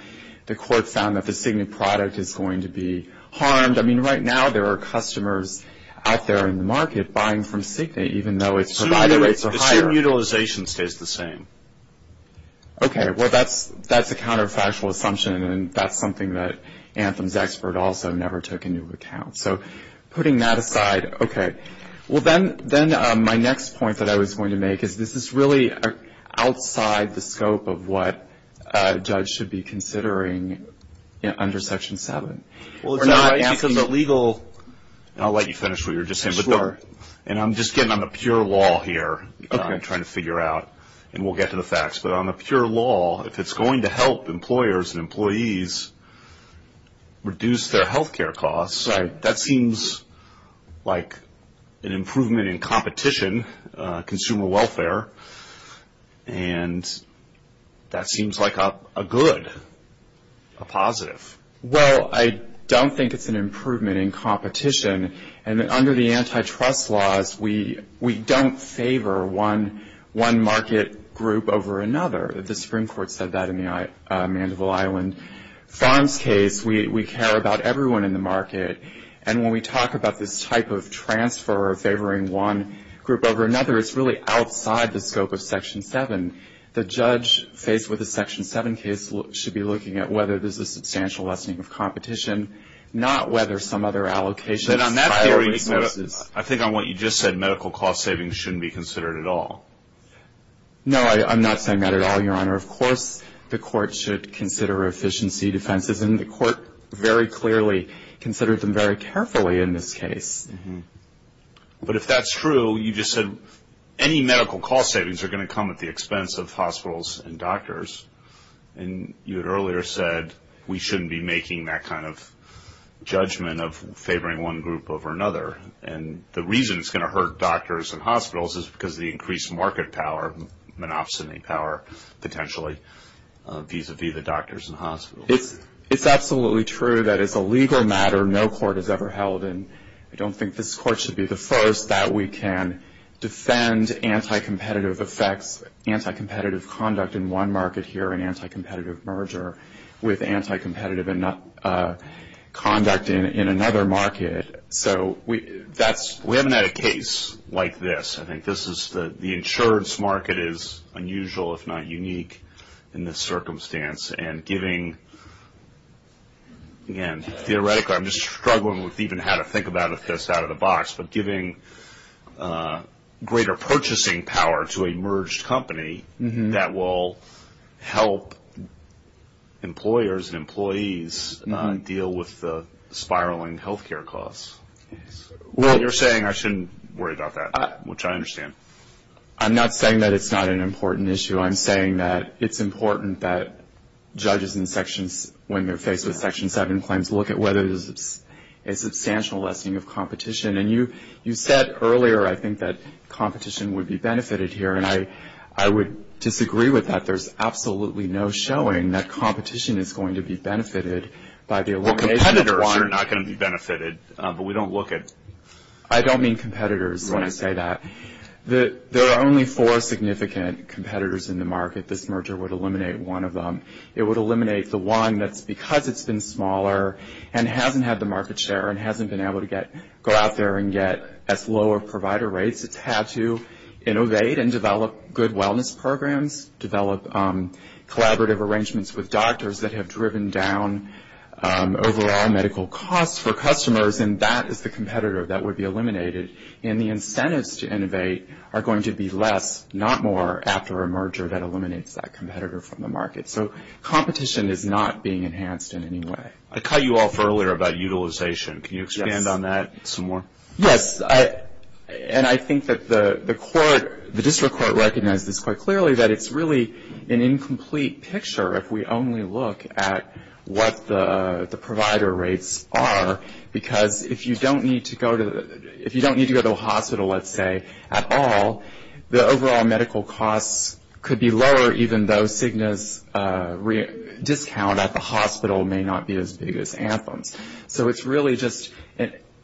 The court found that the Cigna product is going to be harmed. I mean, right now there are customers out there in the market buying from Cigna, even though its provider rates are higher. So your utilization stays the same? Okay, well, that's a counterfactual assumption, and that's something that Anthem's expert also never took into account. So putting that aside, okay. Well, then my next point that I was going to make is, this is really outside the scope of what a judge should be considering under Section 7. We're not asking the legal – I'll let you finish what you were just saying. Sure. And I'm just getting on the pure law here. Okay. I'm trying to figure out, and we'll get to the facts. But on the pure law, if it's going to help employers and employees reduce their health care costs, that seems like an improvement in competition, consumer welfare, and that seems like a good, a positive. Well, I don't think it's an improvement in competition. And under the antitrust laws, we don't favor one market group over another. The Supreme Court said that in the Mandible Island Farms case. We care about everyone in the market. And when we talk about this type of transfer of favoring one group over another, it's really outside the scope of Section 7. The judge faced with a Section 7 case should be looking at whether there's a substantial lessening of competition, not whether some other allocation of private services. I think on what you just said, medical cost savings shouldn't be considered at all. No, I'm not saying that at all, Your Honor. Of course the court should consider efficiency defenses, and the court very clearly considers them very carefully in this case. But if that's true, you just said any medical cost savings are going to come at the expense of hospitals and doctors. And you had earlier said we shouldn't be making that kind of judgment of favoring one group over another. And the reason it's going to hurt doctors and hospitals is because of the increased market power, monopsony power potentially, vis-a-vis the doctors and hospitals. It's absolutely true that it's a legal matter no court has ever held, and I don't think this court should be the first, that we can defend anti-competitive effect, anti-competitive conduct in one market here and anti-competitive merger with anti-competitive conduct in another market. So we haven't had a case like this. I think this is the insurance market is unusual, if not unique, in this circumstance. And giving, again, theoretically, I'm just struggling with even how to think about this out of the box, but giving greater purchasing power to a merged company that will help employers and employees not deal with the spiraling health care costs. What you're saying, I shouldn't worry about that, which I understand. I'm not saying that it's not an important issue. I'm saying that it's important that judges and sections, when they're faced with Section 7 claims, look at whether there's a substantial lessening of competition. And you said earlier, I think, that competition would be benefited here, and I would disagree with that. There's absolutely no showing that competition is going to be benefited by the elimination of one. Well, competitors are not going to be benefited, but we don't look at it. I don't mean competitors when I say that. There are only four significant competitors in the market. This merger would eliminate one of them. It would eliminate the one that's because it's been smaller and hasn't had the market share and hasn't been able to go out there and get at lower provider rates. It's had to innovate and develop good wellness programs, develop collaborative arrangements with doctors that have driven down overall medical costs for customers, and that is the competitor that would be eliminated. And the incentives to innovate are going to be less, not more, after a merger that eliminates that competitor from the market. So competition is not being enhanced in any way. I caught you off earlier about utilization. Can you expand on that some more? Yes, and I think that the court, the district court, recognizes quite clearly that it's really an incomplete picture if we only look at what the provider rates are, because if you don't need to go to the hospital, let's say, at all, the overall medical costs could be lower even though Cigna's discount at the hospital may not be as big as Anthem. So it's really just,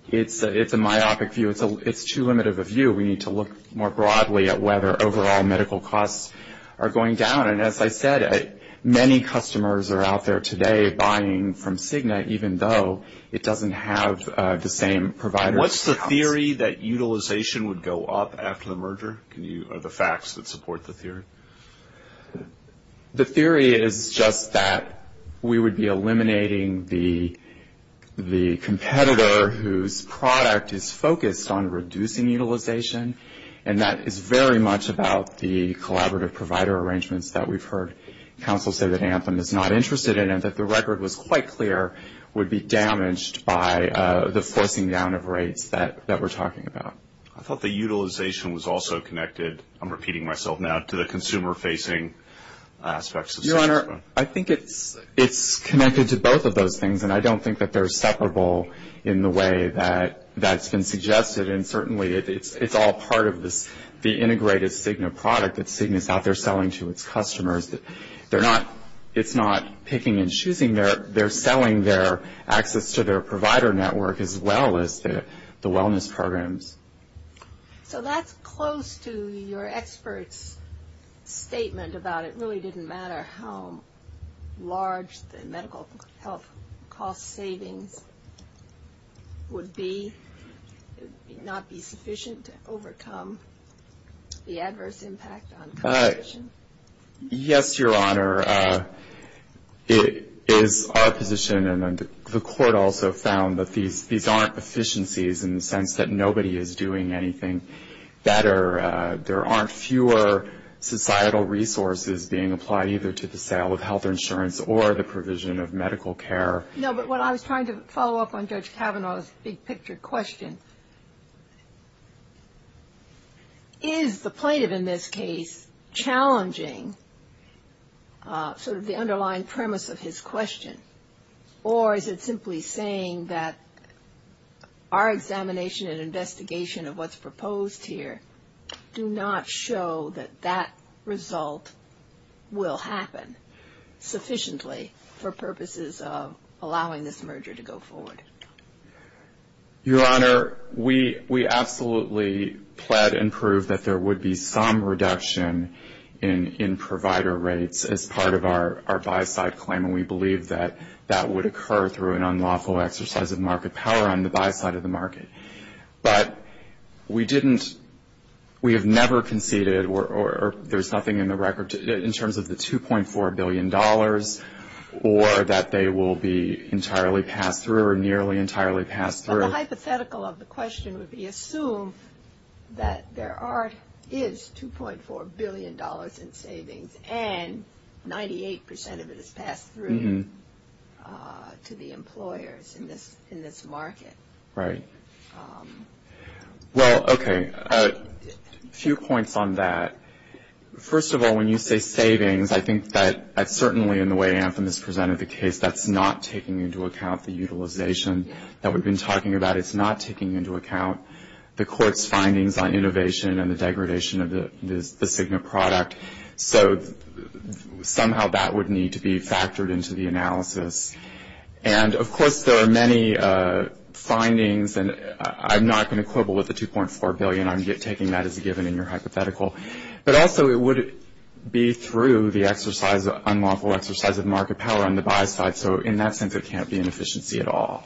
it's a myopic view. It's too limited of a view. We need to look more broadly at whether overall medical costs are going down. And as I said, many customers are out there today buying from Cigna even though it doesn't have the same provider discount. What's the theory that utilization would go up after the merger? Are the facts that support the theory? The theory is just that we would be eliminating the competitor whose product is focused on reducing utilization, and that it's very much about the collaborative provider arrangements that we've heard counsel say that Anthem is not interested in and that the record was quite clear would be damaged by the forcing down of rates that we're talking about. I thought the utilization was also connected, I'm repeating myself now, to the consumer-facing aspects. Your Honor, I think it's connected to both of those things, and I don't think that they're separable in the way that that's been suggested. And certainly it's all part of the integrated Cigna product that Cigna is out there selling to its customers. It's not picking and choosing. They're selling their access to their provider network as well as the wellness programs. So that's close to your expert's statement about it really didn't matter how large the medical health cost savings would be. It would not be sufficient to overcome the adverse impact on competition. Yes, Your Honor. It is our position, and the Court also found, that these aren't efficiencies in the sense that nobody is doing anything better. There aren't fewer societal resources being applied either to the sale of health insurance or the provision of medical care. No, but what I was trying to follow up on Judge Kavanaugh's big-picture question, is the plaintiff in this case challenging sort of the underlying premise of his question? Or is it simply saying that our examination and investigation of what's proposed here do not show that that result will happen sufficiently for purposes of allowing this merger to go forward? Your Honor, we absolutely pled and proved that there would be some reduction in provider rates as part of our buy-side claim, and we believe that that would occur through an unlawful exercise of market power on the buy-side of the market. But we have never conceded or there's nothing in the record in terms of the $2.4 billion or that they will be entirely passed through or nearly entirely passed through. But the hypothetical of the question would be assumed that there is $2.4 billion in savings, and 98% of it is passed through to the employers in this market. Right. Well, okay, a few points on that. First of all, when you say savings, I think that certainly in the way Anthem has presented the case, that's not taking into account the utilization that we've been talking about. It's not taking into account the court's findings on innovation and the degradation of the Cigna product. So somehow that would need to be factored into the analysis. And, of course, there are many findings, and I'm not going to quibble with the $2.4 billion. I'm taking that as a given in your hypothetical. But, also, it would be through the unlawful exercise of market power on the buy side. So, in that sense, it can't be an efficiency at all.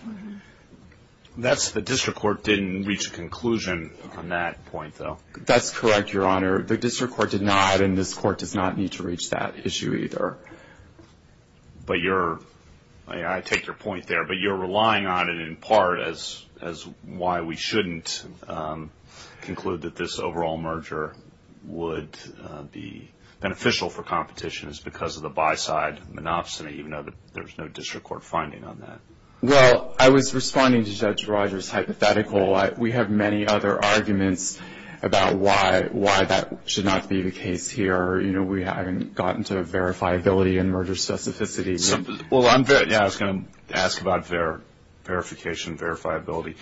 The district court didn't reach a conclusion on that point, though. That's correct, Your Honor. The district court did not, and this court does not need to reach that issue either. I take your point there. But you're relying on it in part as why we shouldn't conclude that this overall merger would be beneficial for competition. It's because of the buy side monopsony, even though there's no district court finding on that. Well, I was responding to Judge Rogers' hypothetical. We have many other arguments about why that should not be the case here. You know, we haven't gotten to a verifiability and merger specificity. Well, I was going to ask about verification and verifiability.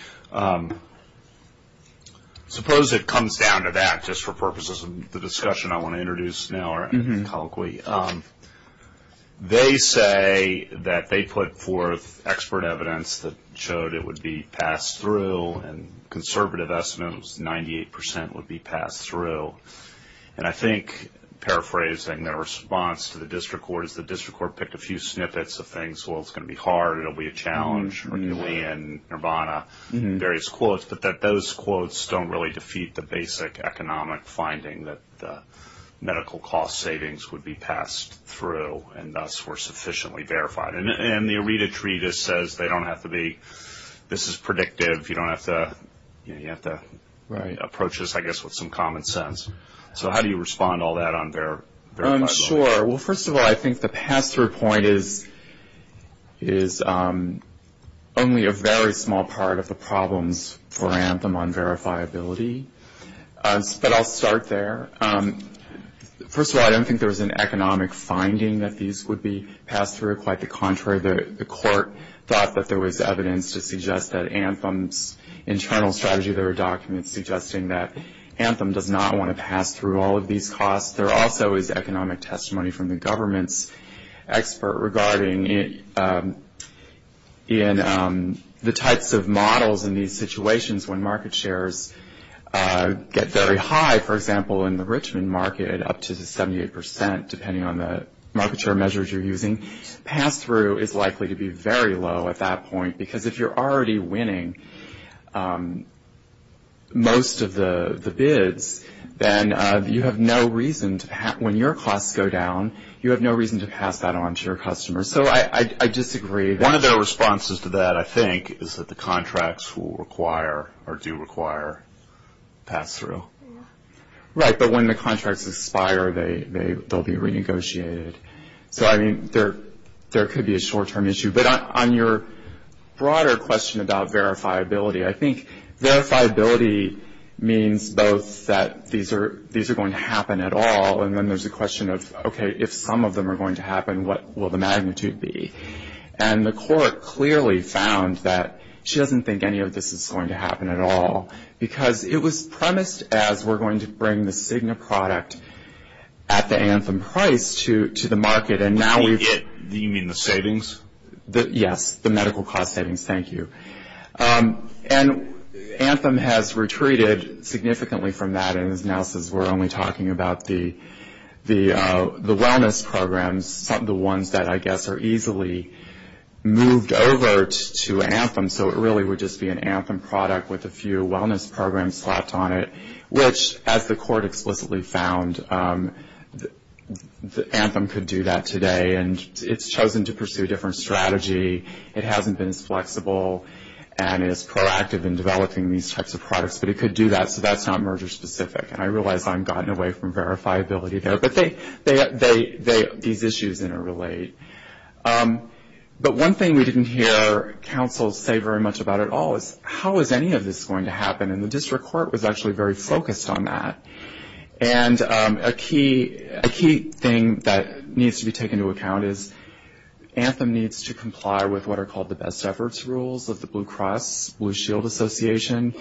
Suppose it comes down to that, just for purposes of the discussion I want to introduce now. They say that they put forth expert evidence that showed it would be passed through, and conservative estimates, 98% would be passed through. And I think, paraphrasing the response to the district court, is the district court picked a few snippets of things. Well, it's going to be hard. It will be a challenge, McKinley and Urbana, various quotes. But those quotes don't really defeat the basic economic finding that the medical cost savings would be passed through, and thus were sufficiently verified. And the ARETA tree just says they don't have to be, this is predictive, you don't have to, you know, you have to approach this, I guess, with some common sense. So how do you respond to all that on verifiability? Sure. Well, first of all, I think the pass-through point is only a very small part of the problems for Anthem on verifiability. But I'll start there. First of all, I don't think there was an economic finding that these would be passed through. Quite the contrary. The court thought that there was evidence to suggest that Anthem's internal strategy, there were documents suggesting that Anthem does not want to pass through all of these costs. There also is economic testimony from the government's expert regarding the types of models in these situations when market shares get very high, for example, in the Richmond market up to the 78%, depending on the market share measures you're using. Pass-through is likely to be very low at that point because if you're already winning most of the bids, then you have no reason to pass, when your costs go down, you have no reason to pass that on to your customers. So I disagree. One of the responses to that, I think, is that the contracts will require or do require pass-through. Right, but when the contracts expire, they'll be renegotiated. So, I mean, there could be a short-term issue. But on your broader question about verifiability, I think verifiability means both that these are going to happen at all, and then there's the question of, okay, if some of them are going to happen, what will the magnitude be? And the court clearly found that she doesn't think any of this is going to happen at all, because it was premised as we're going to bring the Cigna product at the Anthem price to the market, and now we've. You mean the savings? Yes, the medical cost savings, thank you. And Anthem has retreated significantly from that, we're only talking about the wellness programs, the ones that, I guess, are easily moved over to Anthem. So it really would just be an Anthem product with a few wellness programs slapped on it, which, as the court explicitly found, Anthem could do that today. And it's chosen to pursue a different strategy. It hasn't been as flexible, and it's proactive in developing these types of products. But it could do that, so that's not merger-specific. And I realize I've gotten away from verifiability there, but these issues interrelate. But one thing we didn't hear counsel say very much about at all is, how is any of this going to happen? And the district court was actually very focused on that. And a key thing that needs to be taken into account is, Anthem needs to comply with what are called the best efforts rules of the Blue Cross Blue Shield Association.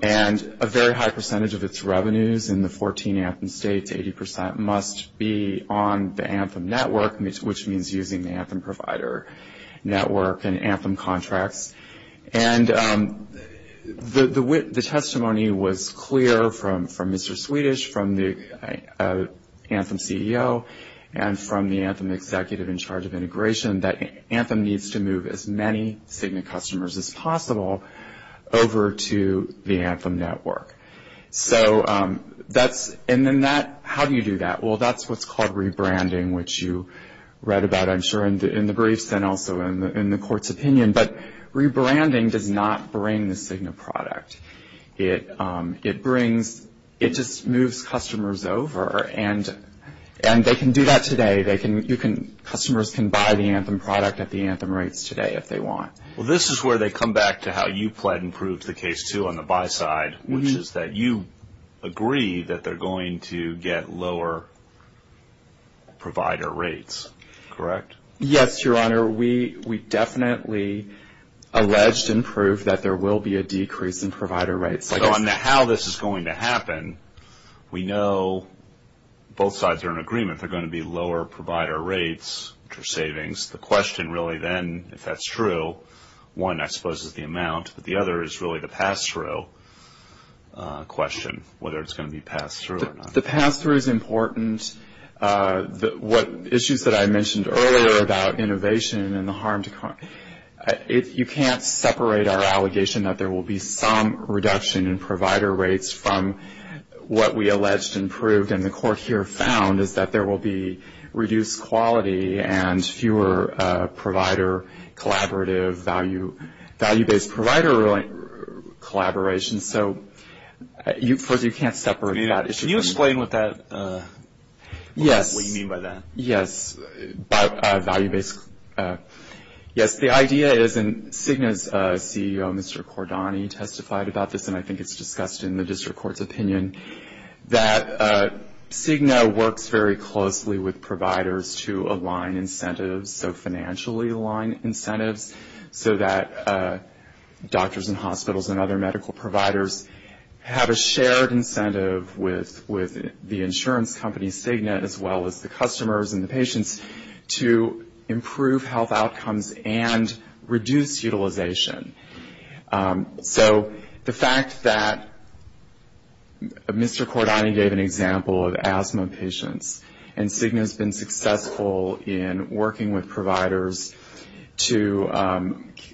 And a very high percentage of its revenues in the 14 Anthem states, 80%, must be on the Anthem network, which means using the Anthem provider network and Anthem contracts. And the testimony was clear from Mr. Swedish, from the Anthem CEO, and from the Anthem executive in charge of integration, that Anthem needs to move as many Cigna customers as possible over to the Anthem network. So that's, and then that, how do you do that? Well, that's what's called rebranding, which you read about, I'm sure, in the briefs and also in the court's opinion. But rebranding does not bring the Cigna product. It brings, it just moves customers over. And they can do that today. They can, you can, customers can buy the Anthem product at the Anthem rates today if they want. Well, this is where they come back to how you planned and proved the case, too, on the buy side, which is that you agree that they're going to get lower provider rates, correct? Yes, Your Honor. We definitely alleged and proved that there will be a decrease in provider rates. So on how this is going to happen, we know both sides are in agreement. They're going to be lower provider rates for savings. The question really then, if that's true, one, I suppose, is the amount, but the other is really the pass-through question, whether it's going to be passed through or not. The pass-through is important. Issues that I mentioned earlier about innovation and the harm, you can't separate our allegation that there will be some reduction in provider rates from what we alleged and proved and the court here found is that there will be reduced quality and fewer provider collaborative value-based provider collaborations. So you can't separate that issue. Can you explain what you mean by that? Yes, value-based. Yes, the idea is, and CIGNA's CEO, Mr. Cordani, testified about this, and I think it was discussed in the district court's opinion, that CIGNA works very closely with providers to align incentives, so financially align incentives, so that doctors and hospitals and other medical providers have a shared incentive with the insurance company, CIGNA, as well as the customers and the patients to improve health outcomes and reduce utilization. So the fact that Mr. Cordani gave an example of asthma patients and CIGNA's been successful in working with providers to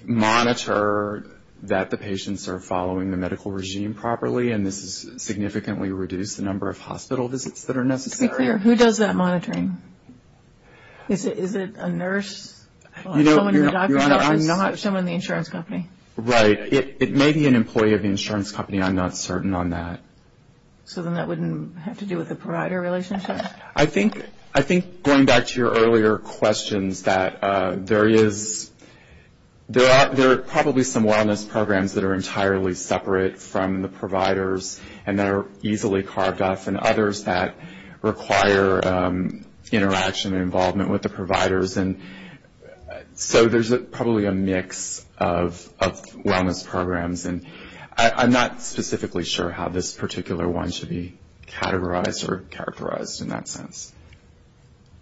monitor that the patients are following the medical regime properly and this has significantly reduced the number of hospital visits that are necessary. To be clear, who does that monitoring? Is it a nurse or someone in the doctor's office? I'm not sure. Someone in the insurance company. Right. It may be an employee of the insurance company. I'm not certain on that. So then that wouldn't have to do with the provider relationship? I think, going back to your earlier questions, that there is, there are probably some wellness programs that are entirely separate from the providers and that are easily carved off, and others that require interaction and involvement with the providers, and so there's probably a mix of wellness programs. And I'm not specifically sure how this particular one should be categorized or characterized in that sense.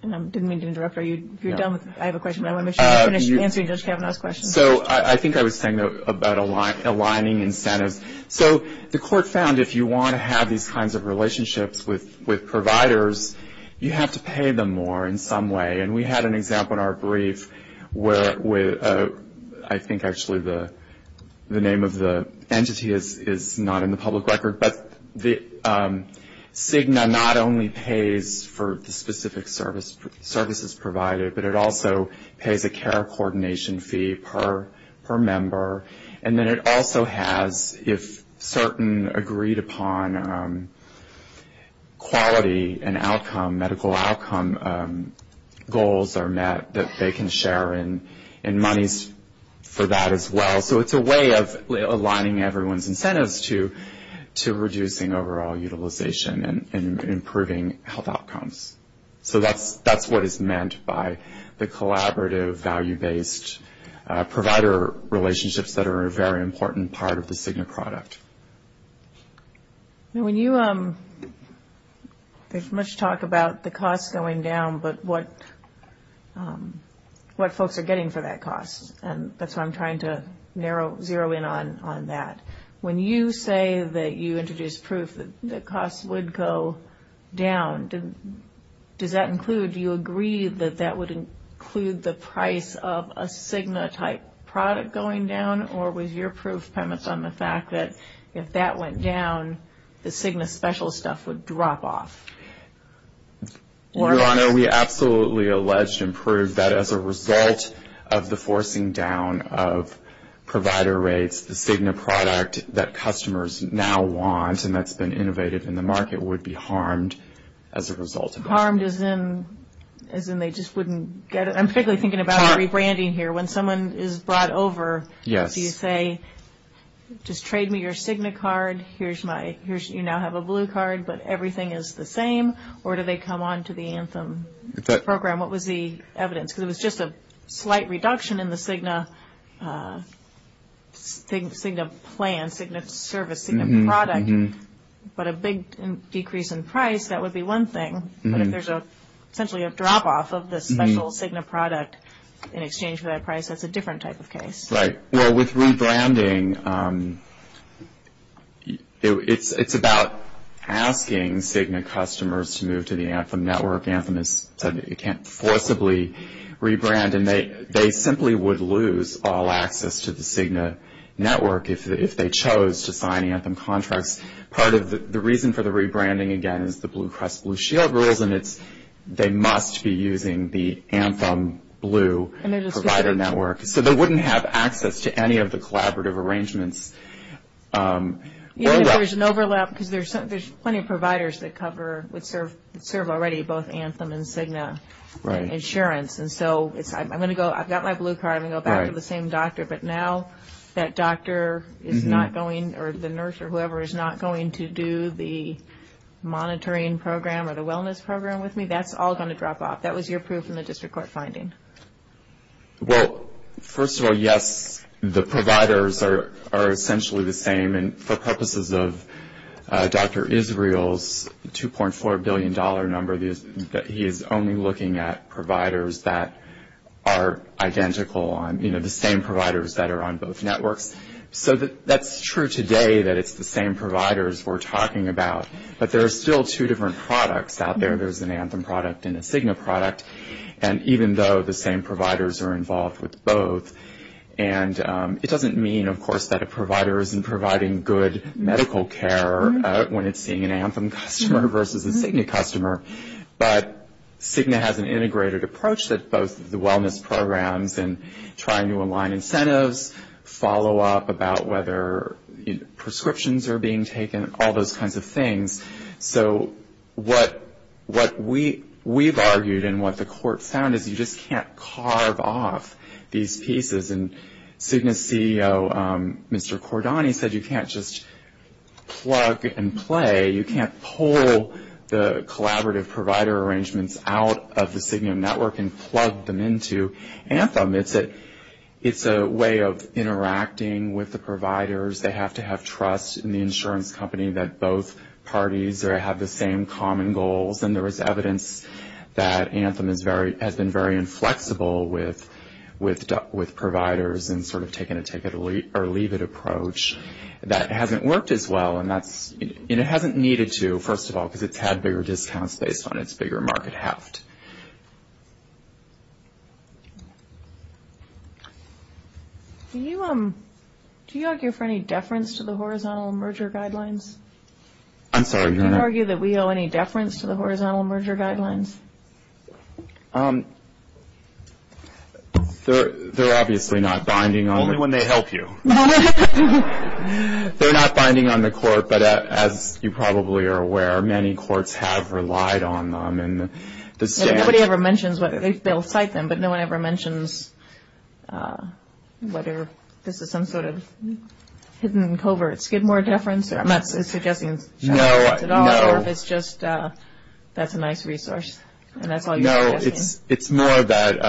I didn't mean to interrupt. I have a question. I want to make sure I'm answering Judge Kavanaugh's question. So I think I was saying about aligning incentives. So the court found if you want to have these kinds of relationships with providers, you have to pay them more in some way. And we had an example in our brief where I think actually the name of the entity is not in the public record, but CIGNA not only pays for the specific services provided, but it also pays a care coordination fee per member. And then it also has, if certain agreed upon quality and outcome, medical outcome goals are met, that they can share in monies for that as well. So it's a way of aligning everyone's incentives to reducing overall utilization and improving health outcomes. So that's what is meant by the collaborative value-based provider relationships that are a very important part of the CIGNA product. When you talk about the cost going down, but what folks are getting for that cost, and that's why I'm trying to zero in on that. When you say that you introduced proof that costs would go down, does that include, do you agree that that would include the price of a CIGNA-type product going down, or was your proof premise on the fact that if that went down, the CIGNA special stuff would drop off? Your Honor, we absolutely allege and prove that as a result of the forcing down of provider rates, the CIGNA product that customers now want and that's been innovated in the market would be harmed as a result. Harmed as in they just wouldn't get it? I'm thinking about rebranding here. When someone is brought over, do you say, just trade me your CIGNA card, you now have a blue card, but everything is the same, or do they come on to the ANTHEM program? What was the evidence? Because it was just a slight reduction in the CIGNA plan, CIGNA service, CIGNA product, but a big decrease in price, that would be one thing. But if there's essentially a drop-off of the special CIGNA product in exchange for that price, that's a different type of case. Right. Well, with rebranding, it's about asking CIGNA customers to move to the ANTHEM network. ANTHEM is something that you can't forcibly rebrand, and they simply would lose all access to the CIGNA network if they chose to sign ANTHEM contracts. Part of the reason for the rebranding, again, is the Blue Cross Blue Shield rules, and it's they must be using the ANTHEM Blue provider network, so they wouldn't have access to any of the collaborative arrangements. Yes, there's an overlap because there's plenty of providers that cover or serve already both ANTHEM and CIGNA insurance. And so I'm going to go, I've got my Blue card, I'm going to go back to the same doctor, but now that doctor is not going, or the nurse or whoever is not going to do the monitoring program or the wellness program with me, that's all going to drop off. That was your proof in the district court finding. Well, first of all, yes, the providers are essentially the same, and for purposes of Dr. Israel's $2.4 billion number, he is only looking at providers that are identical on, you know, the same providers that are on both networks. So that's true today that it's the same providers we're talking about, but there are still two different products out there. There's an ANTHEM product and a CIGNA product. And even though the same providers are involved with both, and it doesn't mean, of course, that a provider isn't providing good medical care when it's seeing an ANTHEM customer versus a CIGNA customer, but CIGNA has an integrated approach that's both the wellness programs and trying to align incentives, follow-up about whether prescriptions are being taken, all those kinds of things. So what we've argued and what the court found is you just can't carve off these pieces. And CIGNA's CEO, Mr. Cordani, said you can't just plug and play. You can't pull the collaborative provider arrangements out of the CIGNA network and plug them into ANTHEM. It's a way of interacting with the providers. They have to have trust in the insurance company that both parties have the same common goals. And there is evidence that ANTHEM has been very inflexible with providers and sort of taken a take-it-or-leave-it approach. That hasn't worked as well, and it hasn't needed to, first of all, because it's had bigger discounts based on its bigger market habit. Next. Do you argue for any deference to the horizontal merger guidelines? I'm sorry. Do you argue that we owe any deference to the horizontal merger guidelines? They're obviously not binding on it. Only when they help you. They're not binding on the court, but as you probably are aware, many courts have relied on them. Nobody ever mentions whether they'll cite them, but no one ever mentions whether this is some sort of hidden covert skid more deference. I'm not suggesting that at all. It's just that's a nice resource, and that's all you're suggesting. No, it's more that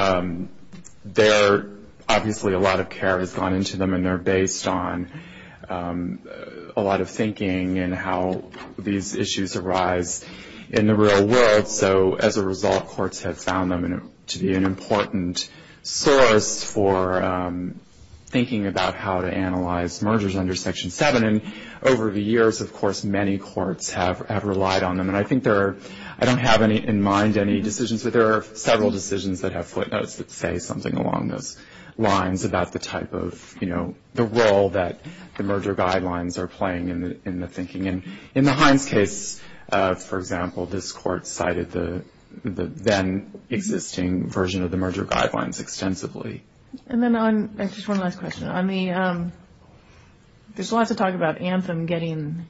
there are obviously a lot of care that's gone into them, and they're based on a lot of thinking and how these issues arise in the real world. So as a result, courts have found them to be an important source for thinking about how to analyze mergers under Section 7, and over the years, of course, many courts have relied on them. And I think there are – I don't have in mind any decisions, lines about the type of, you know, the role that the merger guidelines are playing in the thinking. And in the Hines case, for example, this court cited the then-existing version of the merger guidelines extensively. And then on – this is one last question. On the – there's lots of talk about Anthem getting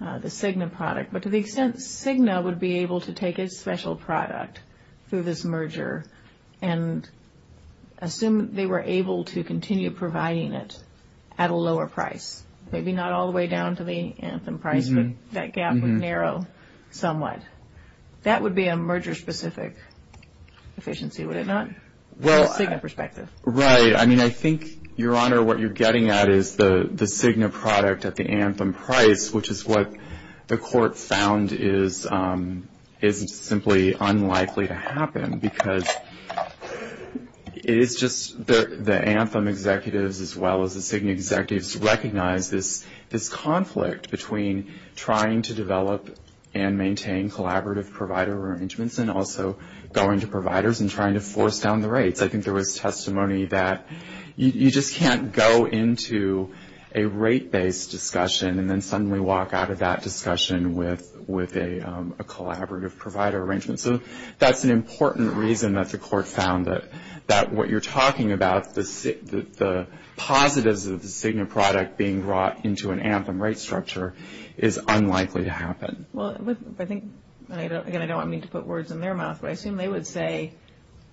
the Cigna product, but to the extent Cigna would be able to take a special product through this merger and assume they were able to continue providing it at a lower price, maybe not all the way down to the Anthem price, but that gap would narrow somewhat, that would be a merger-specific efficiency, would it not, from a Cigna perspective? Right. I mean, I think, Your Honor, what you're getting at is the Cigna product at the Anthem price, which is what the court found is simply unlikely to happen, because it's just the Anthem executives, as well as the Cigna executives, recognize this conflict between trying to develop and maintain collaborative provider arrangements and also going to providers and trying to force down the rates. I think there was testimony that you just can't go into a rate-based discussion and then suddenly walk out of that discussion with a collaborative provider arrangement. So that's an important reason that the court found that what you're talking about, the positives of the Cigna product being brought into an Anthem rate structure, is unlikely to happen. Well, I think – again, I don't want me to put words in their mouth, but I assume they would say,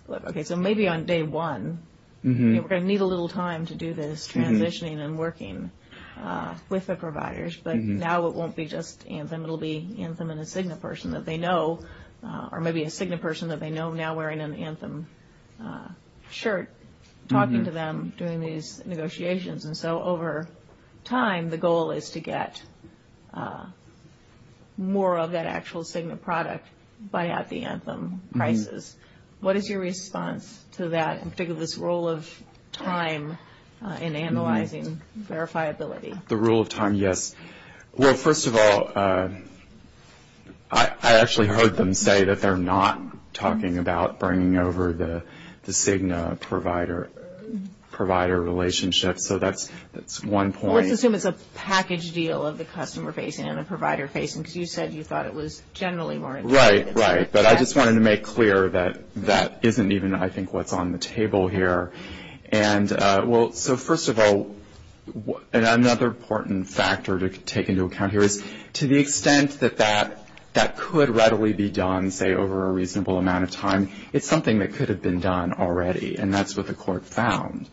okay, so maybe on day one, we're going to need a little time to do this transitioning and working with the providers, but now it won't be just Anthem. It will be Anthem and a Cigna person that they know, or maybe a Cigna person that they know now wearing an Anthem shirt, talking to them during these negotiations. And so over time, the goal is to get more of that actual Cigna product by at the Anthem prices. What is your response to that, in particular, this rule of time in analyzing verifiability? The rule of time, yes. Well, first of all, I actually heard them say that they're not talking about bringing over the Cigna provider relationship. So that's one point. Well, I think it was a package deal of the customer facing and the provider facing, because you said you thought it was generally more interesting. Right, right. But I just wanted to make clear that that isn't even, I think, what's on the table here. And, well, so first of all, another important factor to take into account here is, to the extent that that could readily be done, say, over a reasonable amount of time, it's something that could have been done already, and that's what the court found.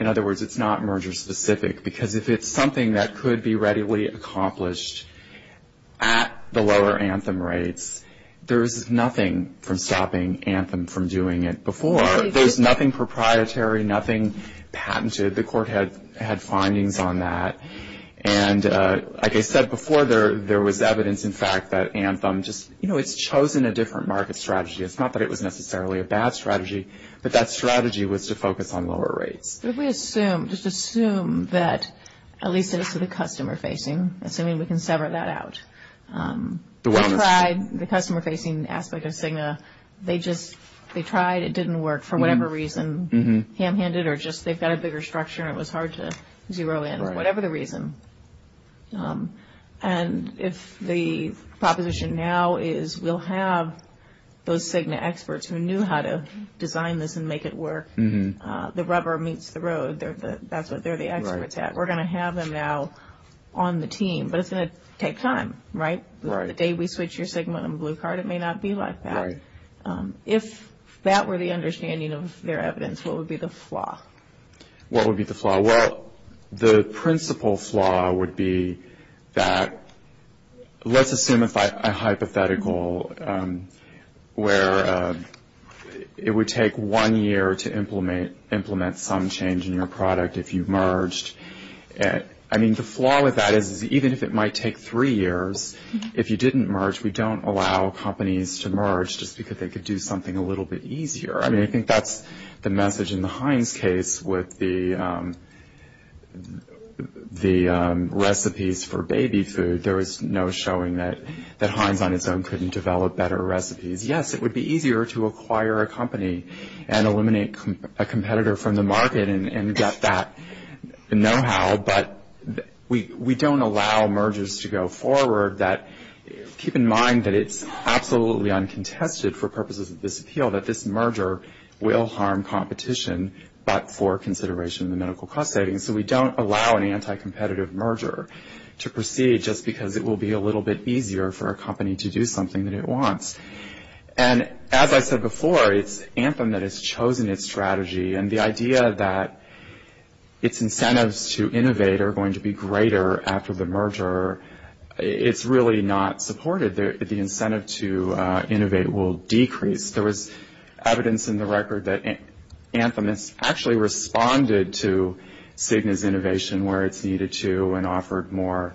In other words, it's not merger specific, because if it's something that could be readily accomplished at the lower Anthem rates, there's nothing from stopping Anthem from doing it before. There's nothing proprietary, nothing patented. The court had findings on that. And like I said before, there was evidence, in fact, that Anthem just, you know, it's chosen a different market strategy. It's not that it was necessarily a bad strategy, but that strategy was to focus on lower rates. Could we assume, just assume that, at least as to the customer-facing, assuming we can sever that out. They tried the customer-facing aspect of Cigna. They just, they tried. It didn't work for whatever reason, hand-handed or just they've got a bigger structure and it was hard to zero in or whatever the reason. And if the proposition now is we'll have those Cigna experts who knew how to design this and make it work, the rubber meets the road. That's what they're the experts at. We're going to have them now on the team, but it's going to take time, right? The day we switch your Cigna on Blue Card, it may not be like that. If that were the understanding of their evidence, what would be the flaw? What would be the flaw? Well, the principal flaw would be that let's assume it's a hypothetical where it would take one year to implement some change in your product if you merged. I mean, the flaw with that is even if it might take three years, if you didn't merge, we don't allow companies to merge just because they could do something a little bit easier. I mean, I think that's the message in the Heinz case with the recipes for baby food. There is no showing that Heinz on its own couldn't develop better recipes. Yes, it would be easier to acquire a company and eliminate a competitor from the market and get that know-how, but we don't allow mergers to go forward that keep in mind that it's absolutely uncontested for purposes of this appeal that this merger will harm competition but for consideration of the medical cost savings. So we don't allow an anti-competitive merger to proceed just because it will be a little bit easier for a company to do something that it wants. And as I said before, it's Anthem that has chosen its strategy, and the idea that its incentives to innovate are going to be greater after the merger, it's really not supported. The incentive to innovate will decrease. There was evidence in the record that Anthem has actually responded to Cigna's innovation where it's needed to and offered more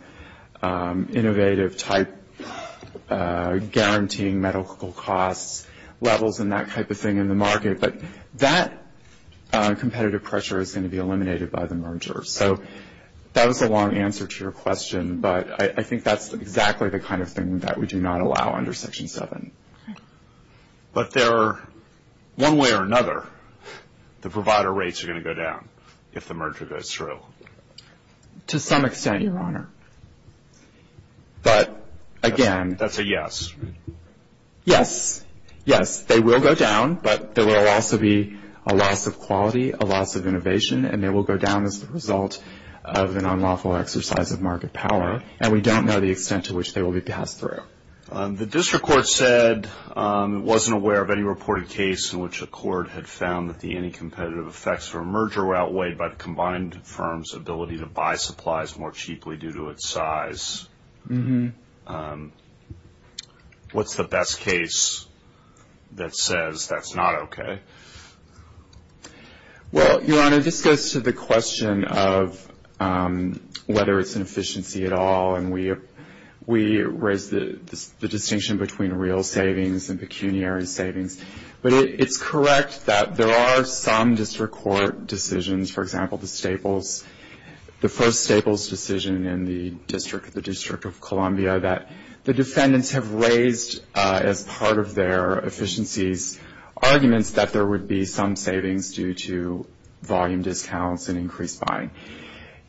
innovative type guaranteeing medical cost levels and that type of thing in the market, but that competitive pressure is going to be eliminated by the merger. So that was a long answer to your question, but I think that's exactly the kind of thing that we do not allow under Section 7. But there are one way or another the provider rates are going to go down if the merger goes through. To some extent, Your Honor. That's a yes? Yes. Yes, they will go down, but there will also be a loss of quality, a loss of innovation, and they will go down as a result of an unlawful exercise of market power, and we don't know the extent to which they will be passed through. The district court said it wasn't aware of any reported case in which a court had found that the any competitive effects of a merger outweighed by the combined firm's ability to buy supplies more cheaply due to its size. What's the best case that says that's not okay? Well, Your Honor, this goes to the question of whether it's an efficiency at all, and we raised the distinction between real savings and pecuniary savings. But it's correct that there are some district court decisions, for example, the Staples, the first Staples decision in the District of Columbia, that the defendants have raised as part of their efficiencies arguments that there would be some savings due to volume discounts and increased buying.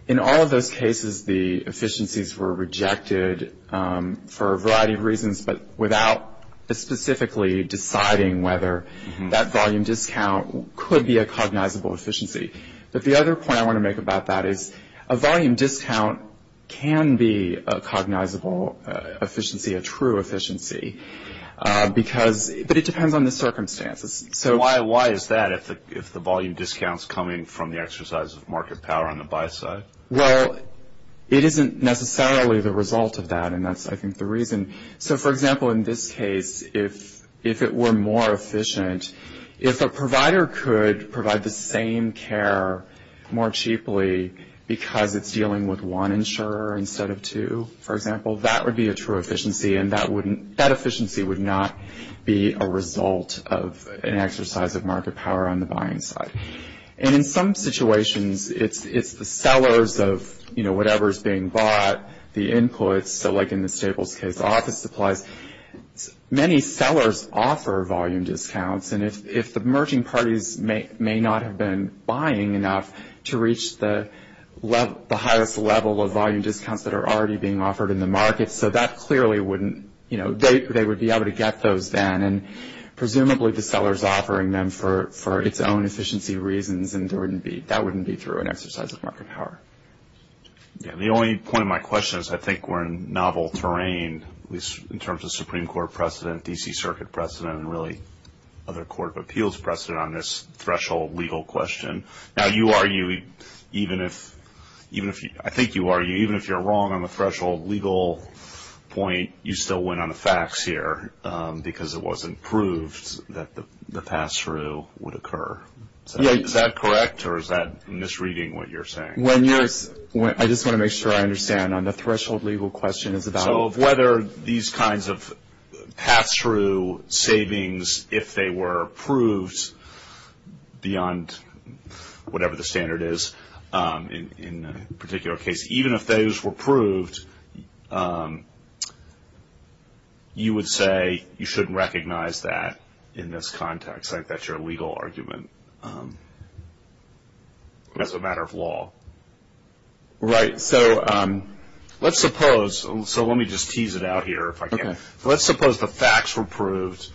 In all of those cases, the efficiencies were rejected for a variety of reasons, but without specifically deciding whether that volume discount could be a cognizable efficiency. But the other point I want to make about that is a volume discount can be a cognizable efficiency, a true efficiency. But it depends on the circumstances. So why is that if the volume discount is coming from the exercise of market power on the buy side? Well, it isn't necessarily the result of that, and that's, I think, the reason. So, for example, in this case, if it were more efficient, if a provider could provide the same care more cheaply because it's dealing with one insurer instead of two, for example, that would be a true efficiency, and that efficiency would not be a result of an exercise of market power on the buying side. And in some situations, it's the sellers of, you know, whatever is being bought, the input, so like in the Staples case, office supplies, many sellers offer volume discounts, and if the merging parties may not have been buying enough to reach the highest level of volume discounts that are already being offered in the market, so that clearly wouldn't, you know, they would be able to get those then, and presumably the seller is offering them for its own efficiency reasons, and that wouldn't be through an exercise of market power. The only point of my question is I think we're in novel terrain, at least in terms of Supreme Court precedent, D.C. Circuit precedent, and really other court of appeals precedent on this threshold legal question. Now, you argue, even if, I think you argue, even if you're wrong on the threshold legal point, you still went on a fax here because it wasn't proved that the pass-through would occur. Is that correct, or is that misreading what you're saying? I just want to make sure I understand on the threshold legal question. So whether these kinds of pass-through savings, if they were approved beyond whatever the standard is, in a particular case, even if those were proved, you would say you shouldn't recognize that in this context. I think that's your legal argument as a matter of law. Right. So let's suppose, so let me just tease it out here if I can. Let's suppose the fax were proved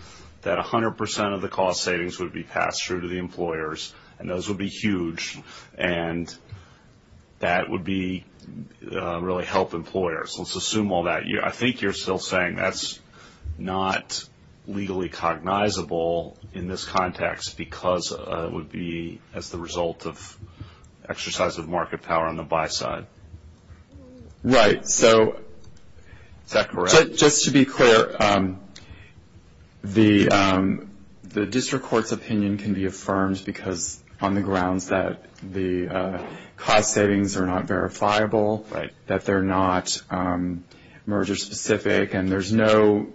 that 100% of the cost savings would be passed through to the employers, and those would be huge, and that would be really help employers. Let's assume all that. I think you're still saying that's not legally cognizable in this context because it would be as the result of exercise of market power on the buy side. Right. So is that correct? Just to be clear, the district court's opinion can be affirmed because on the grounds that the cost savings are not verifiable, that they're not merger specific, and there's no,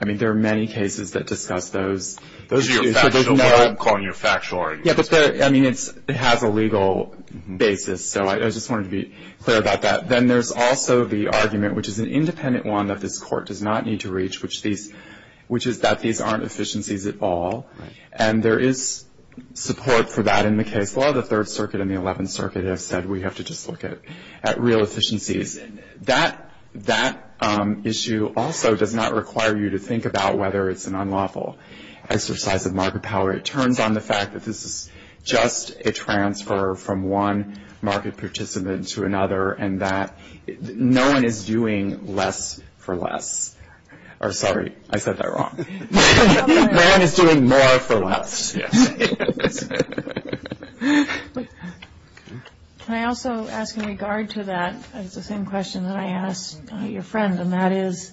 I mean, there are many cases that discuss those. I'm calling your factual argument. I mean, it has a legal basis. So I just wanted to be clear about that. Then there's also the argument, which is an independent one that this court does not need to reach, which is that these aren't efficiencies at all. And there is support for that in the case law. The Third Circuit and the Eleventh Circuit have said we have to just look at real efficiencies. That issue also does not require you to think about whether it's an unlawful exercise of market power. It turns on the fact that this is just a transfer from one market participant to another, and that no one is doing less for less. Sorry, I said that wrong. No one is doing more for less. Can I also ask in regard to that, the same question that I asked your friend, and that is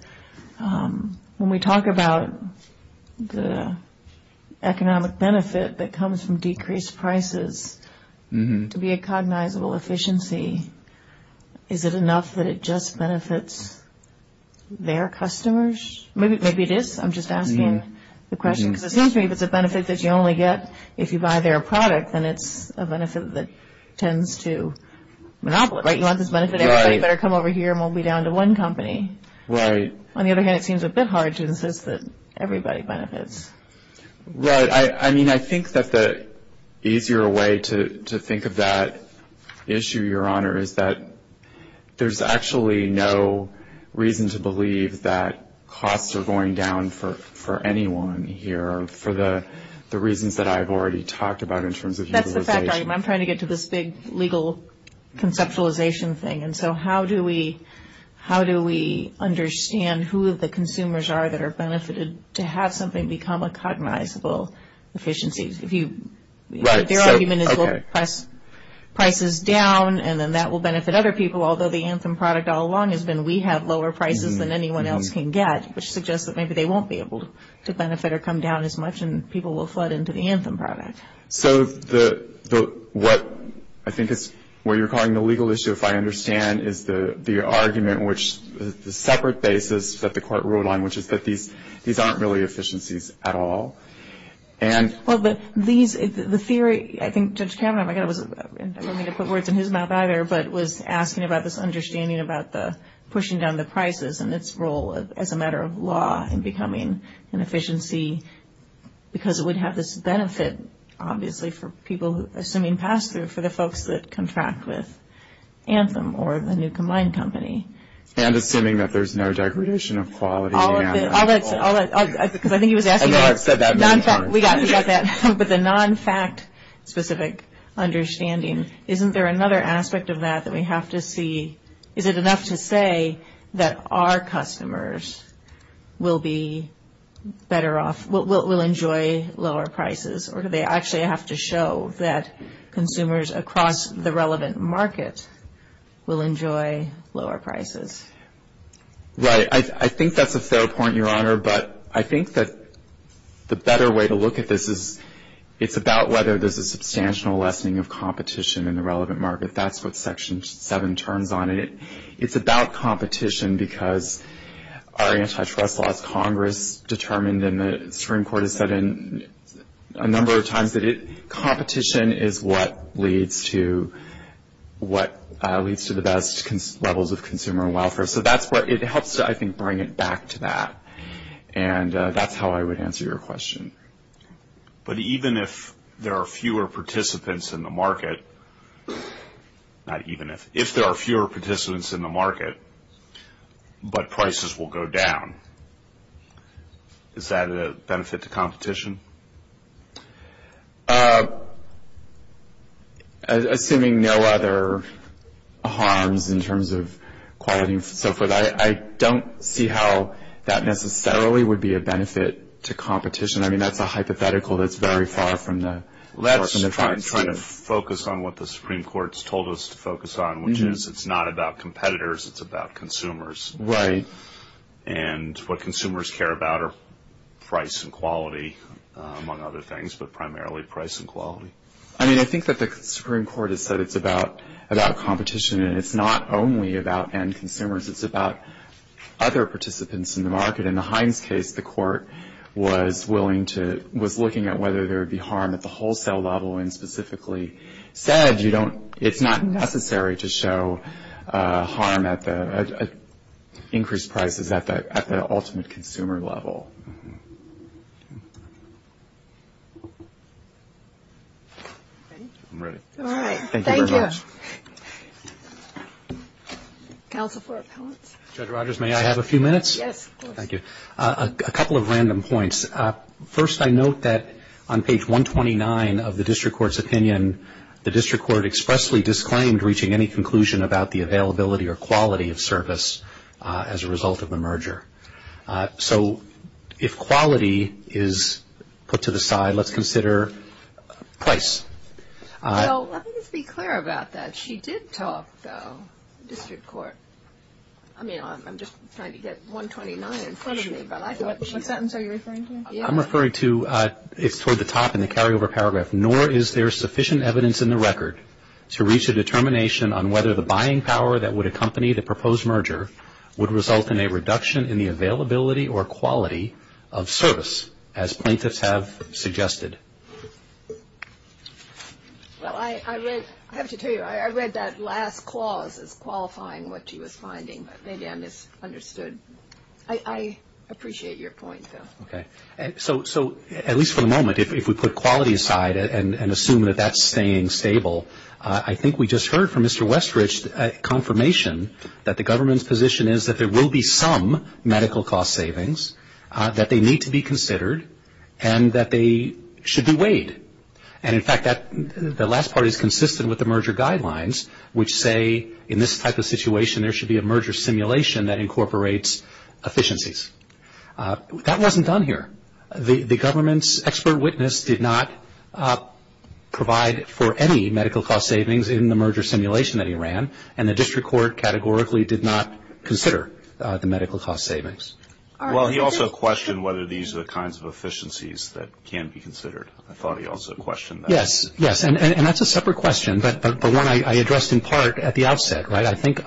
when we talk about the economic benefit that comes from decreased prices to be a cognizable efficiency, is it enough that it just benefits their customers? Maybe it is. I'm just asking the question because it seems to me that it's a benefit that you only get if you buy their product, and it's a benefit that tends to monopolize. You want this benefit, everybody better come over here and we'll be down to one company. Right. On the other hand, it seems a bit hard to insist that everybody benefits. Right. I mean, I think that the easier way to think of that issue, Your Honor, is that there's actually no reason to believe that costs are going down for anyone here, for the reasons that I've already talked about in terms of utilization. That's the fact, I'm trying to get to this big legal conceptualization thing, and so how do we understand who the consumers are that are benefited to have something become a cognizable efficiency? If your argument is we'll press prices down and then that will benefit other people, although the Anthem product all along has been we have lower prices than anyone else can get, which suggests that maybe they won't be able to benefit or come down as much, and people will flood into the Anthem product. So what I think is where you're calling the legal issue, if I understand, is the argument which is the separate basis that the court ruled on, which is that these aren't really efficiencies at all. Well, the theory, I think Judge Cameron, I'm not going to put words in his mouth either, but was asking about this understanding about pushing down the prices and its role as a matter of law in becoming an efficiency, because it would have this benefit, obviously, for people assuming pass-through, for the folks that contract with Anthem or a new combined company. And assuming that there's no degradation of quality in the Anthem. Because I think he was asking about the non-fact specific understanding. Isn't there another aspect of that that we have to see? Is it enough to say that our customers will be better off, will enjoy lower prices, or do they actually have to show that consumers across the relevant markets will enjoy lower prices? Right. I think that's a fair point, Your Honor, but I think that the better way to look at this is it's about whether there's a substantial lessening of competition in the relevant market. That's what Section 7 turns on. It's about competition because our antitrust law, Congress determined and the Supreme Court has said a number of times, that competition is what leads to the best levels of consumer welfare. So that's where it helps to, I think, bring it back to that. And that's how I would answer your question. But even if there are fewer participants in the market, but prices will go down, is that a benefit to competition? Assuming no other harms in terms of quality and so forth, I don't see how that necessarily would be a benefit to competition. I mean, that's a hypothetical that's very far from the truth. I'm trying to focus on what the Supreme Court's told us to focus on, which is it's not about competitors, it's about consumers. Right. And what consumers care about are price and quality, among other things, but primarily price and quality. I mean, I think that the Supreme Court has said it's about competition and it's not only about end consumers, it's about other participants in the market. In the Hines case, the court was looking at whether there would be harm at the wholesale level and specifically said it's not necessary to show harm at the increased prices at the ultimate consumer level. I'm ready. All right. Thank you. Judge Rogers, may I have a few minutes? Yes. Thank you. A couple of random points. First, I note that on page 129 of the district court's opinion, the district court expressly disclaimed reaching any conclusion about the availability or quality of service as a result of the merger. So, if quality is put to the side, let's consider price. Well, let me just be clear about that. She did talk, though, to the district court. I mean, I'm just trying to get 129 in front of me. What sentence are you referring to? I'm referring to toward the top in the carryover paragraph. Nor is there sufficient evidence in the record to reach a determination on whether the buying power that would accompany the proposed merger would result in a reduction in the availability or quality of service as plaintiffs have suggested. Well, I have to tell you, I read that last clause as qualifying what she was finding, but, again, it's understood. I appreciate your point, though. Okay. So, at least for the moment, if we put quality aside and assume that that's staying stable, I think we just heard from Mr. Westrich a confirmation that the government's position is that there will be some medical cost savings, that they need to be considered, and that they should be weighed. And, in fact, the last part is consistent with the merger guidelines, which say, in this type of situation, there should be a merger simulation that incorporates efficiencies. That wasn't done here. The government's expert witness did not provide for any medical cost savings in the merger simulation that he ran, and the district court categorically did not consider the medical cost savings. Well, he also questioned whether these are the kinds of efficiencies that can be considered. I thought he also questioned that. Yes, yes, and that's a separate question, but the one I addressed in part at the outset, right? I think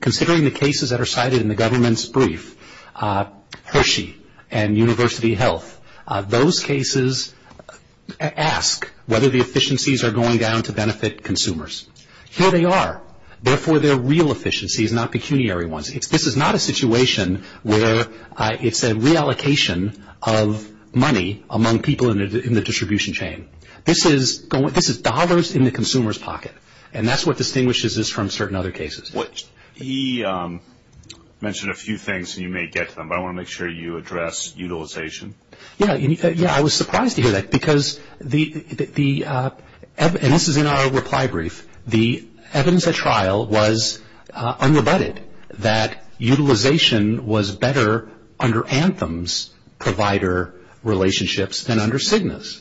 considering the cases that are cited in the government's brief, Hershey and University Health, those cases ask whether the efficiencies are going down to benefit consumers. Here they are. Therefore, they're real efficiencies, not pecuniary ones. This is not a situation where it's a reallocation of money among people in the distribution chain. This is dollars in the consumer's pocket, and that's what distinguishes this from certain other cases. He mentioned a few things, and you may get to them, but I want to make sure you address utilization. Yes, I was surprised to hear that, because the – and this is in our reply brief – the evidence at trial was unrebutted, that utilization was better under Anthem's provider relationships than under Cigna's.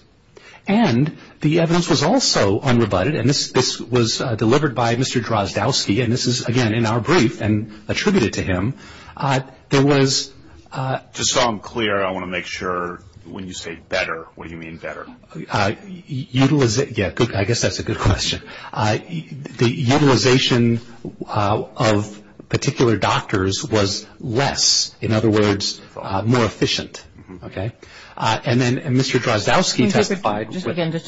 And the evidence was also unrebutted, and this was delivered by Mr. Drozdowski, and this is, again, in our brief and attributed to him. There was – Just so I'm clear, I want to make sure when you say better, what you mean better. Yeah, I guess that's a good question. The utilization of particular doctors was less, in other words, more efficient, okay? And then Mr. Drozdowski testified – Just again, just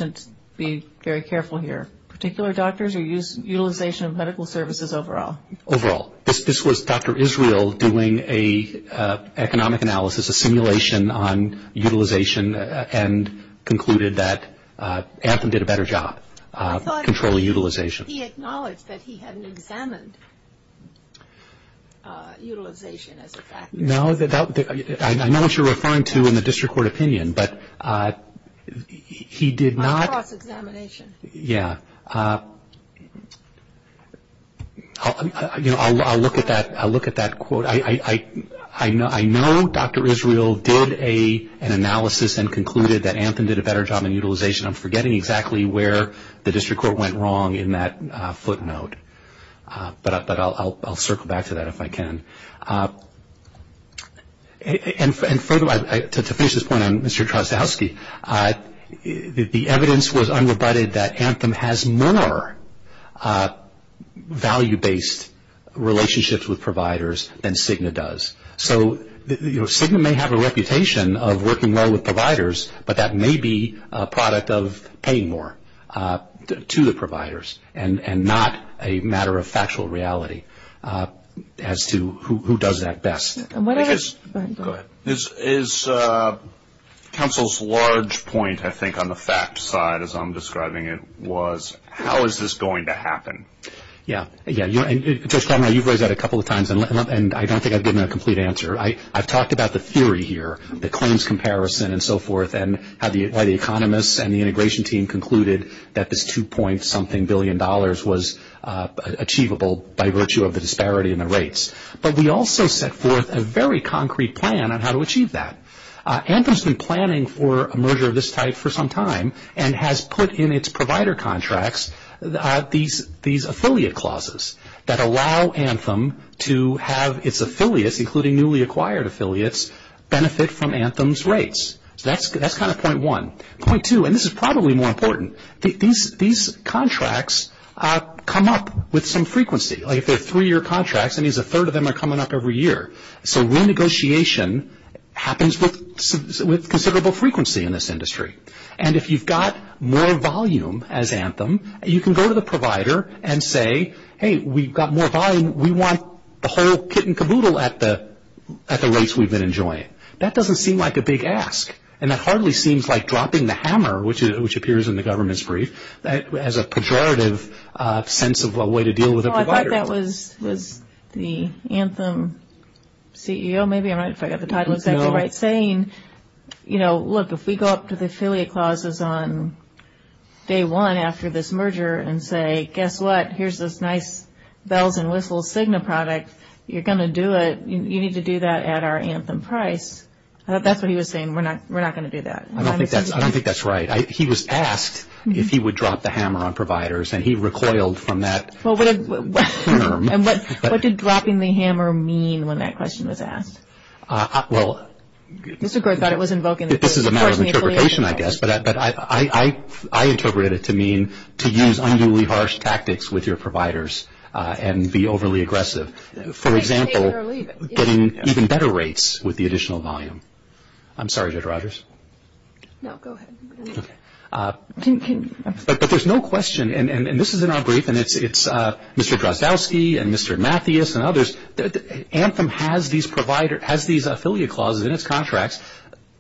be very careful here. Particular doctors or utilization of medical services overall? Overall. Well, this was Dr. Israel doing an economic analysis, a simulation on utilization, and concluded that Anthem did a better job controlling utilization. He acknowledged that he hadn't examined utilization as a factor. No, I know what you're referring to in the district court opinion, but he did not – A cross-examination. Yeah. I'll look at that quote. I know Dr. Israel did an analysis and concluded that Anthem did a better job in utilization. I'm forgetting exactly where the district court went wrong in that footnote, but I'll circle back to that if I can. And to finish this point on Mr. Drozdowski, the evidence was unrebutted that Anthem has more value-based relationships with providers than Cigna does. So, you know, Cigna may have a reputation of working well with providers, but that may be a product of paying more to the providers and not a matter of factual reality as to who does that best. Go ahead. Is counsel's large point, I think, on the fact side, as I'm describing it, was how is this going to happen? Yeah. Yeah. You know, Judge Cardinal, you've raised that a couple of times, and I don't think I've given a complete answer. I've talked about the theory here, the claims comparison and so forth, and how the economists and the integration team concluded that this $2. something billion was achievable by virtue of the disparity in the rates. But we also set forth a very concrete plan on how to achieve that. Anthem's been planning for a merger of this type for some time and has put in its provider contracts these affiliate clauses that allow Anthem to have its affiliates, including newly acquired affiliates, benefit from Anthem's rates. So that's kind of point one. Point two, and this is probably more important, these contracts come up with some frequency. Like if they're three-year contracts, that means a third of them are coming up every year. So renegotiation happens with considerable frequency in this industry. And if you've got more volume as Anthem, you can go to the provider and say, hey, we've got more volume, we want the whole kit and caboodle at the rates we've been enjoying. That doesn't seem like a big ask. And it hardly seems like dropping the hammer, which appears in the government's brief, as a pejorative sense of a way to deal with a provider. Well, I thought that was the Anthem CEO, maybe, if I've got the title of that right, saying, you know, look, if we go up to the affiliate clauses on day one after this merger and say, guess what, here's this nice bells and whistles Cigna product, you're going to do it, you need to do that at our Anthem price, that's what he was saying, we're not going to do that. I don't think that's right. He was asked if he would drop the hammer on providers, and he recoiled from that. And what did dropping the hammer mean when that question was asked? Well, this is a matter of interpretation, I guess, but I interpreted it to mean to use unduly harsh tactics with your providers and be overly aggressive. For example, getting even better rates with the additional volume. I'm sorry, Judge Rogers. No, go ahead. But there's no question, and this is in our brief, and it's Mr. Grozowski and Mr. Mathias and others, Anthem has these affiliate clauses in its contracts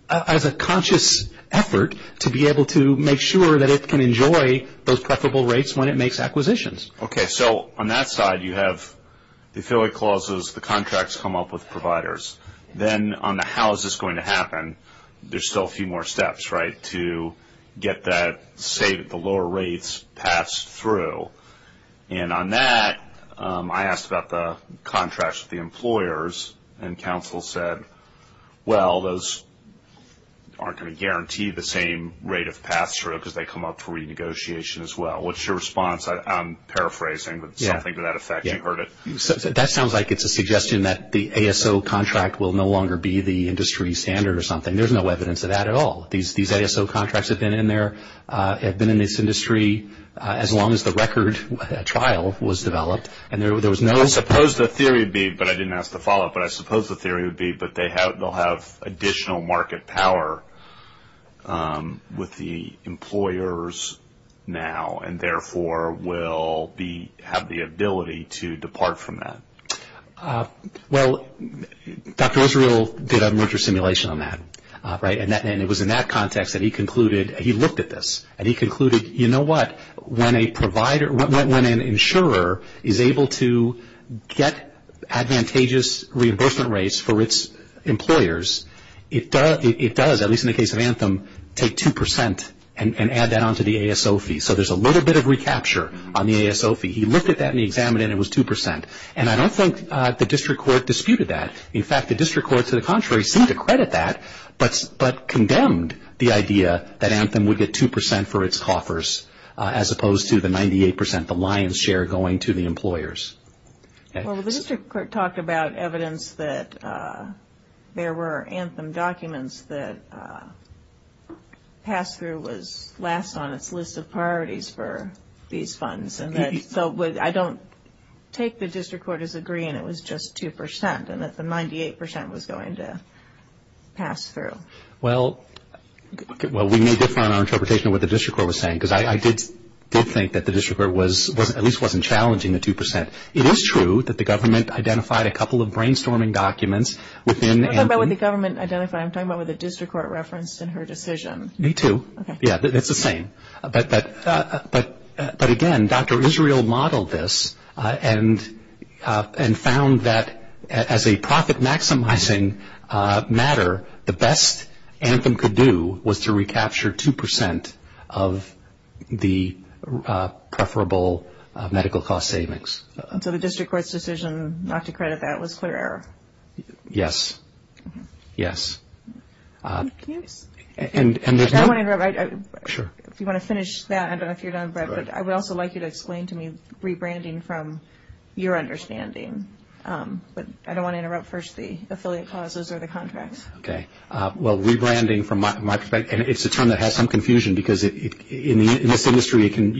as a conscious effort to be able to make sure that it can enjoy those preferable rates when it makes acquisitions. Okay, so on that side you have the affiliate clauses, the contracts come up with providers. Then on the how is this going to happen, there's still a few more steps, right, to get that, say, the lower rates passed through. And on that, I asked about the contracts with the employers, and counsel said, well, those aren't going to guarantee the same rate of pass-through because they come up for renegotiation as well. What's your response? I'm paraphrasing, but something to that effect. You heard it. That sounds like it's a suggestion that the ASO contract will no longer be the industry standard or something. There's no evidence of that at all. These ASO contracts have been in there, have been in this industry as long as the record trial was developed. I suppose the theory would be, but I didn't ask the follow-up, but I suppose the theory would be that they'll have additional market power with the employers now, and therefore will have the ability to depart from that. Well, Dr. Israel did a merger simulation on that, right, and it was in that context that he concluded, he looked at this and he concluded, you know what, when an insurer is able to get advantageous reimbursement rates for its employers, it does, at least in the case of Anthem, take 2% and add that on to the ASO fee. So there's a little bit of recapture on the ASO fee. He looked at that in the exam and it was 2%. And I don't think the district court disputed that. In fact, the district court, to the contrary, seemed to credit that, but condemned the idea that Anthem would get 2% for its coffers as opposed to the 98%, the lion's share going to the employers. Well, the district court talked about evidence that there were Anthem documents that pass-through was last on its list of priorities for these funds. So I don't take the district court as agreeing it was just 2% and that the 98% was going to pass-through. Well, we knew different on our interpretation of what the district court was saying, because I did think that the district court at least wasn't challenging the 2%. It is true that the government identified a couple of brainstorming documents within Anthem. What about what the government identified? I'm talking about what the district court referenced in her decision. Me too. Okay. Yeah, it's the same. But again, Dr. Israel modeled this and found that as a profit-maximizing matter, the best Anthem could do was to recapture 2% of the preferable medical cost savings. So the district court's decision not to credit that was clear error? Yes. Yes. I want to interrupt. Sure. If you want to finish that, I don't know if you're done, but I would also like you to explain to me rebranding from your understanding. I don't want to interrupt first the affiliate clauses or the contracts. Okay. Well, rebranding from my perspective, it's a term that has some confusion, because in this industry it can be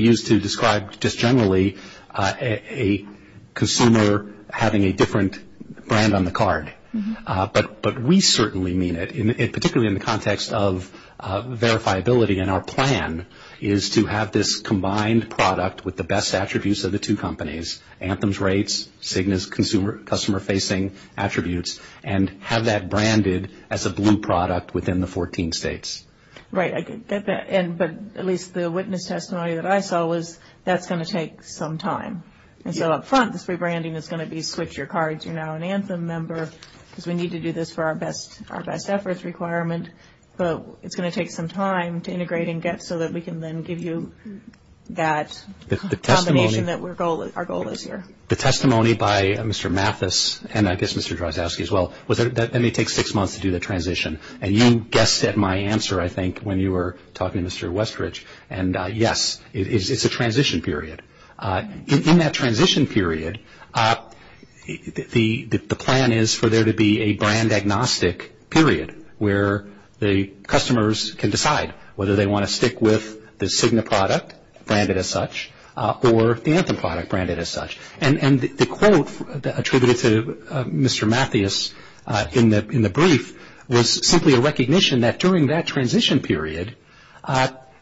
used to describe just generally a consumer having a different brand on the card. But we certainly mean it, particularly in the context of verifiability, and our plan is to have this combined product with the best attributes of the two companies, Anthem's rates, Cigna's customer-facing attributes, and have that branded as a blue product within the 14 states. Right. But at least the witness testimony that I saw was that's going to take some time. So up front, the rebranding is going to be switch your cards, you're now an Anthem member, because we need to do this for our best efforts requirement. But it's going to take some time to integrate and get so that we can then give you that combination that our goal is here. The testimony by Mr. Mathis, and I guess Mr. Drozdowski as well, was that it may take six months to do the transition. And you guessed at my answer, I think, when you were talking, Mr. Westridge. And yes, it's a transition period. In that transition period, the plan is for there to be a brand agnostic period where the customers can decide whether they want to stick with the Cigna product branded as such or the Anthem product branded as such. And the quote attributed to Mr. Mathis in the brief was simply a recognition that during that transition period,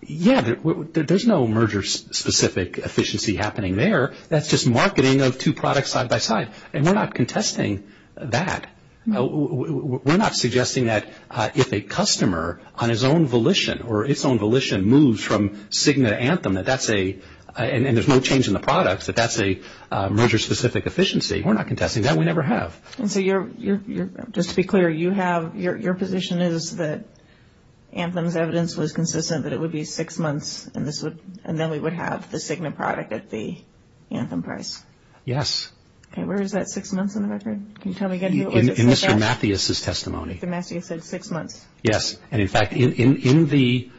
yes, there's no merger-specific efficiency happening there. That's just marketing of two products side by side, and we're not contesting that. We're not suggesting that if a customer on his own volition or its own volition moves from Cigna to Anthem, and there's no change in the products, that that's a merger-specific efficiency. We're not contesting that. We never have. And so just to be clear, your position is that Anthem's evidence was consistent, that it would be six months, and then we would have the Cigna product at the Anthem price? Yes. Okay, where is that six months on the record? Can you tell me again? In Mr. Mathis' testimony. Mr. Mathis said six months. Yes, and in fact, in the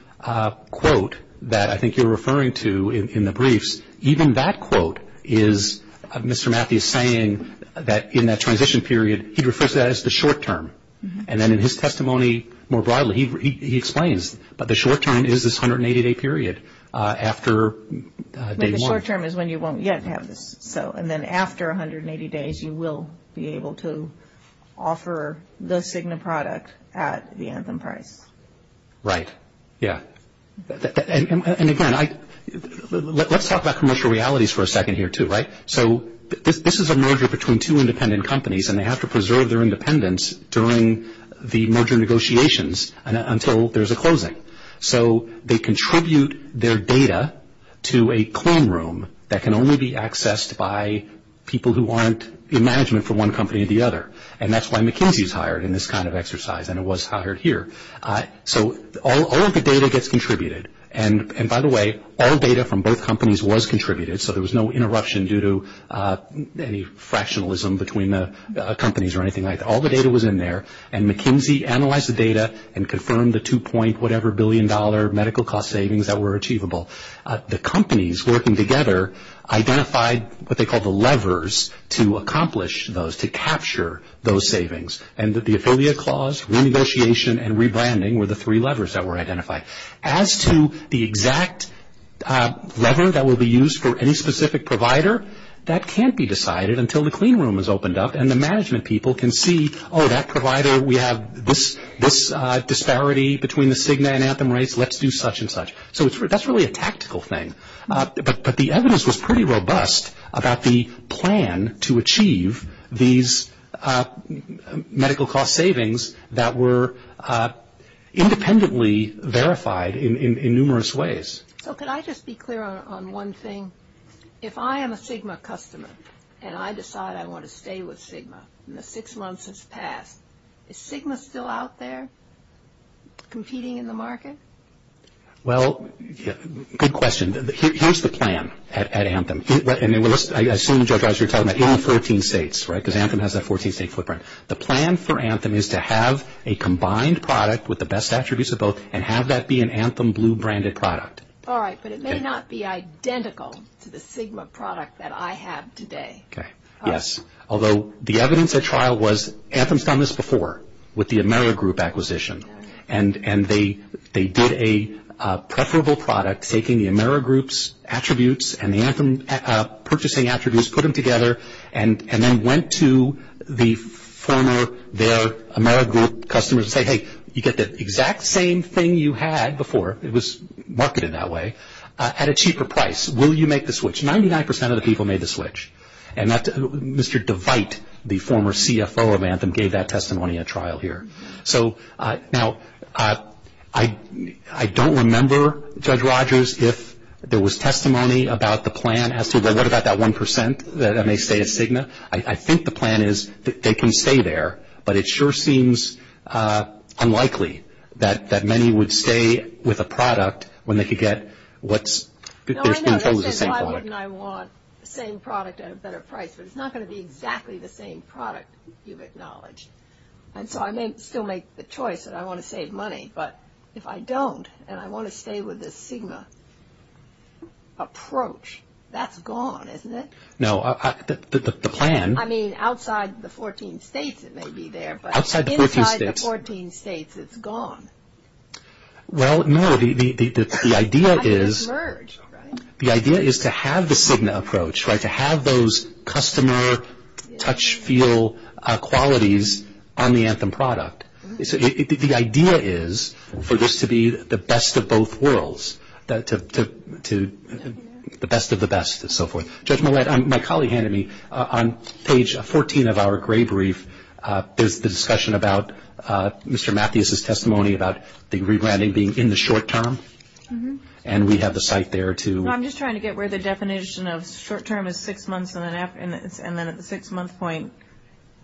quote that I think you're referring to in the briefs, even that quote is Mr. Mathis saying that in that transition period, he refers to that as the short-term. And then in his testimony more broadly, he explains the short-term is this 180-day period after day one. The short-term is when you won't yet have this. And then after 180 days, you will be able to offer the Cigna product at the Anthem price. Right, yes. And again, let's talk about commercial realities for a second here too, right? So this is a merger between two independent companies, and they have to preserve their independence during the merger negotiations until there's a closing. So they contribute their data to a claim room that can only be accessed by people who aren't in management for one company or the other. And that's why McKinsey is hired in this kind of exercise, and it was hired here. So all of the data gets contributed. And, by the way, all data from both companies was contributed, so there was no interruption due to any fractionalism between the companies or anything like that. All the data was in there, and McKinsey analyzed the data and confirmed the $2. whatever billion medical cost savings that were achievable. The companies working together identified what they called the levers to accomplish those, to capture those savings. And the affiliate clause, renegotiation, and rebranding were the three levers that were identified. As to the exact lever that will be used for any specific provider, that can't be decided until the claim room is opened up and the management people can see, oh, that provider, we have this disparity between the Cigna and Anthem rates, let's do such and such. So that's really a tactical thing. But the evidence was pretty robust about the plan to achieve these medical cost savings that were independently verified in numerous ways. So could I just be clear on one thing? If I am a Cigna customer and I decide I want to stay with Cigna and the six months has passed, is Cigna still out there competing in the market? Well, good question. Here's the plan at Anthem. And I assume, Judge Asher, you're talking about in 13 states, right, because Anthem has that 14-state footprint. The plan for Anthem is to have a combined product with the best attributes of both and have that be an Anthem blue-branded product. All right, but it may not be identical to the Cigna product that I have today. Yes. Although the evidence at trial was, Anthem's done this before with the Amerigroup acquisition, and they did a preferable product taking the Amerigroup's attributes and the Anthem purchasing attributes, put them together, and then went to the former, their Amerigroup customers and said, hey, you get the exact same thing you had before. It was marketed that way at a cheaper price. Will you make the switch? Ninety-nine percent of the people made the switch. And Mr. Devite, the former CFO of Anthem, gave that testimony at trial here. So, now, I don't remember, Judge Rogers, if there was testimony about the plan as to, well, what about that one percent that may stay at Cigna? I think the plan is that they can stay there, but it sure seems unlikely that many would stay with a product when they could get what's the same product. No, I know that you said, why wouldn't I want the same product at a better price? But it's not going to be exactly the same product you've acknowledged. And so, I may still make the choice that I want to save money, but if I don't and I want to stay with this Cigna approach, that's gone, isn't it? No, the plan. I mean, outside the 14 states it may be there, but inside the 14 states it's gone. Well, no, the idea is to have the Cigna approach, right, to have those customer touch-feel qualities on the Anthem product. The idea is for this to be the best of both worlds, the best of the best, and so forth. Judge Millett, my colleague handed me, on page 14 of our grade brief, there's the discussion about Mr. Matthews' testimony about the rebranding being in the short term, and we have the site there, too. No, I'm just trying to get where the definition of short term is six months, and then at the six-month point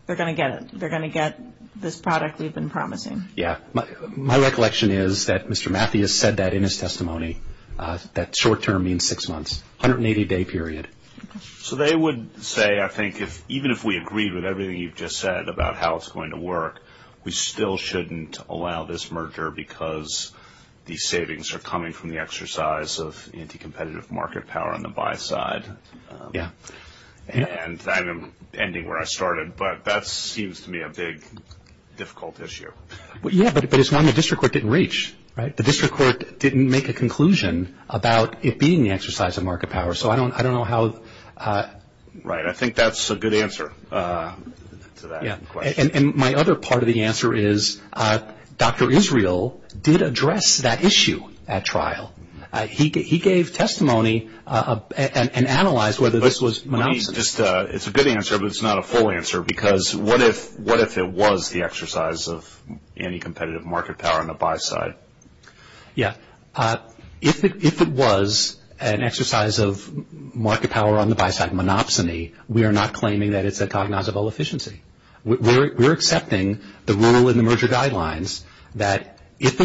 they're going to get it. They're going to get this product we've been promising. Yeah. My recollection is that Mr. Matthews said that in his testimony, that short term means six months, 180-day period. So they would say, I think, even if we agreed with everything you've just said about how it's going to work, we still shouldn't allow this merger because these savings are coming from the exercise of anti-competitive market power on the buy side. Yeah. And I'm ending where I started, but that seems to me a big, difficult issue. Yeah, but it's one the district court didn't reach, right? The district court didn't make a conclusion about it being the exercise of market power. So I don't know how. Right, I think that's a good answer to that question. And my other part of the answer is Dr. Israel did address that issue at trial. He gave testimony and analyzed whether this was monopsony. It's a good answer, but it's not a full answer because what if it was the exercise of anti-competitive market power on the buy side? Yeah. If it was an exercise of market power on the buy side, monopsony, we are not claiming that it's a cognizable efficiency. We're accepting the rule in the merger guidelines that if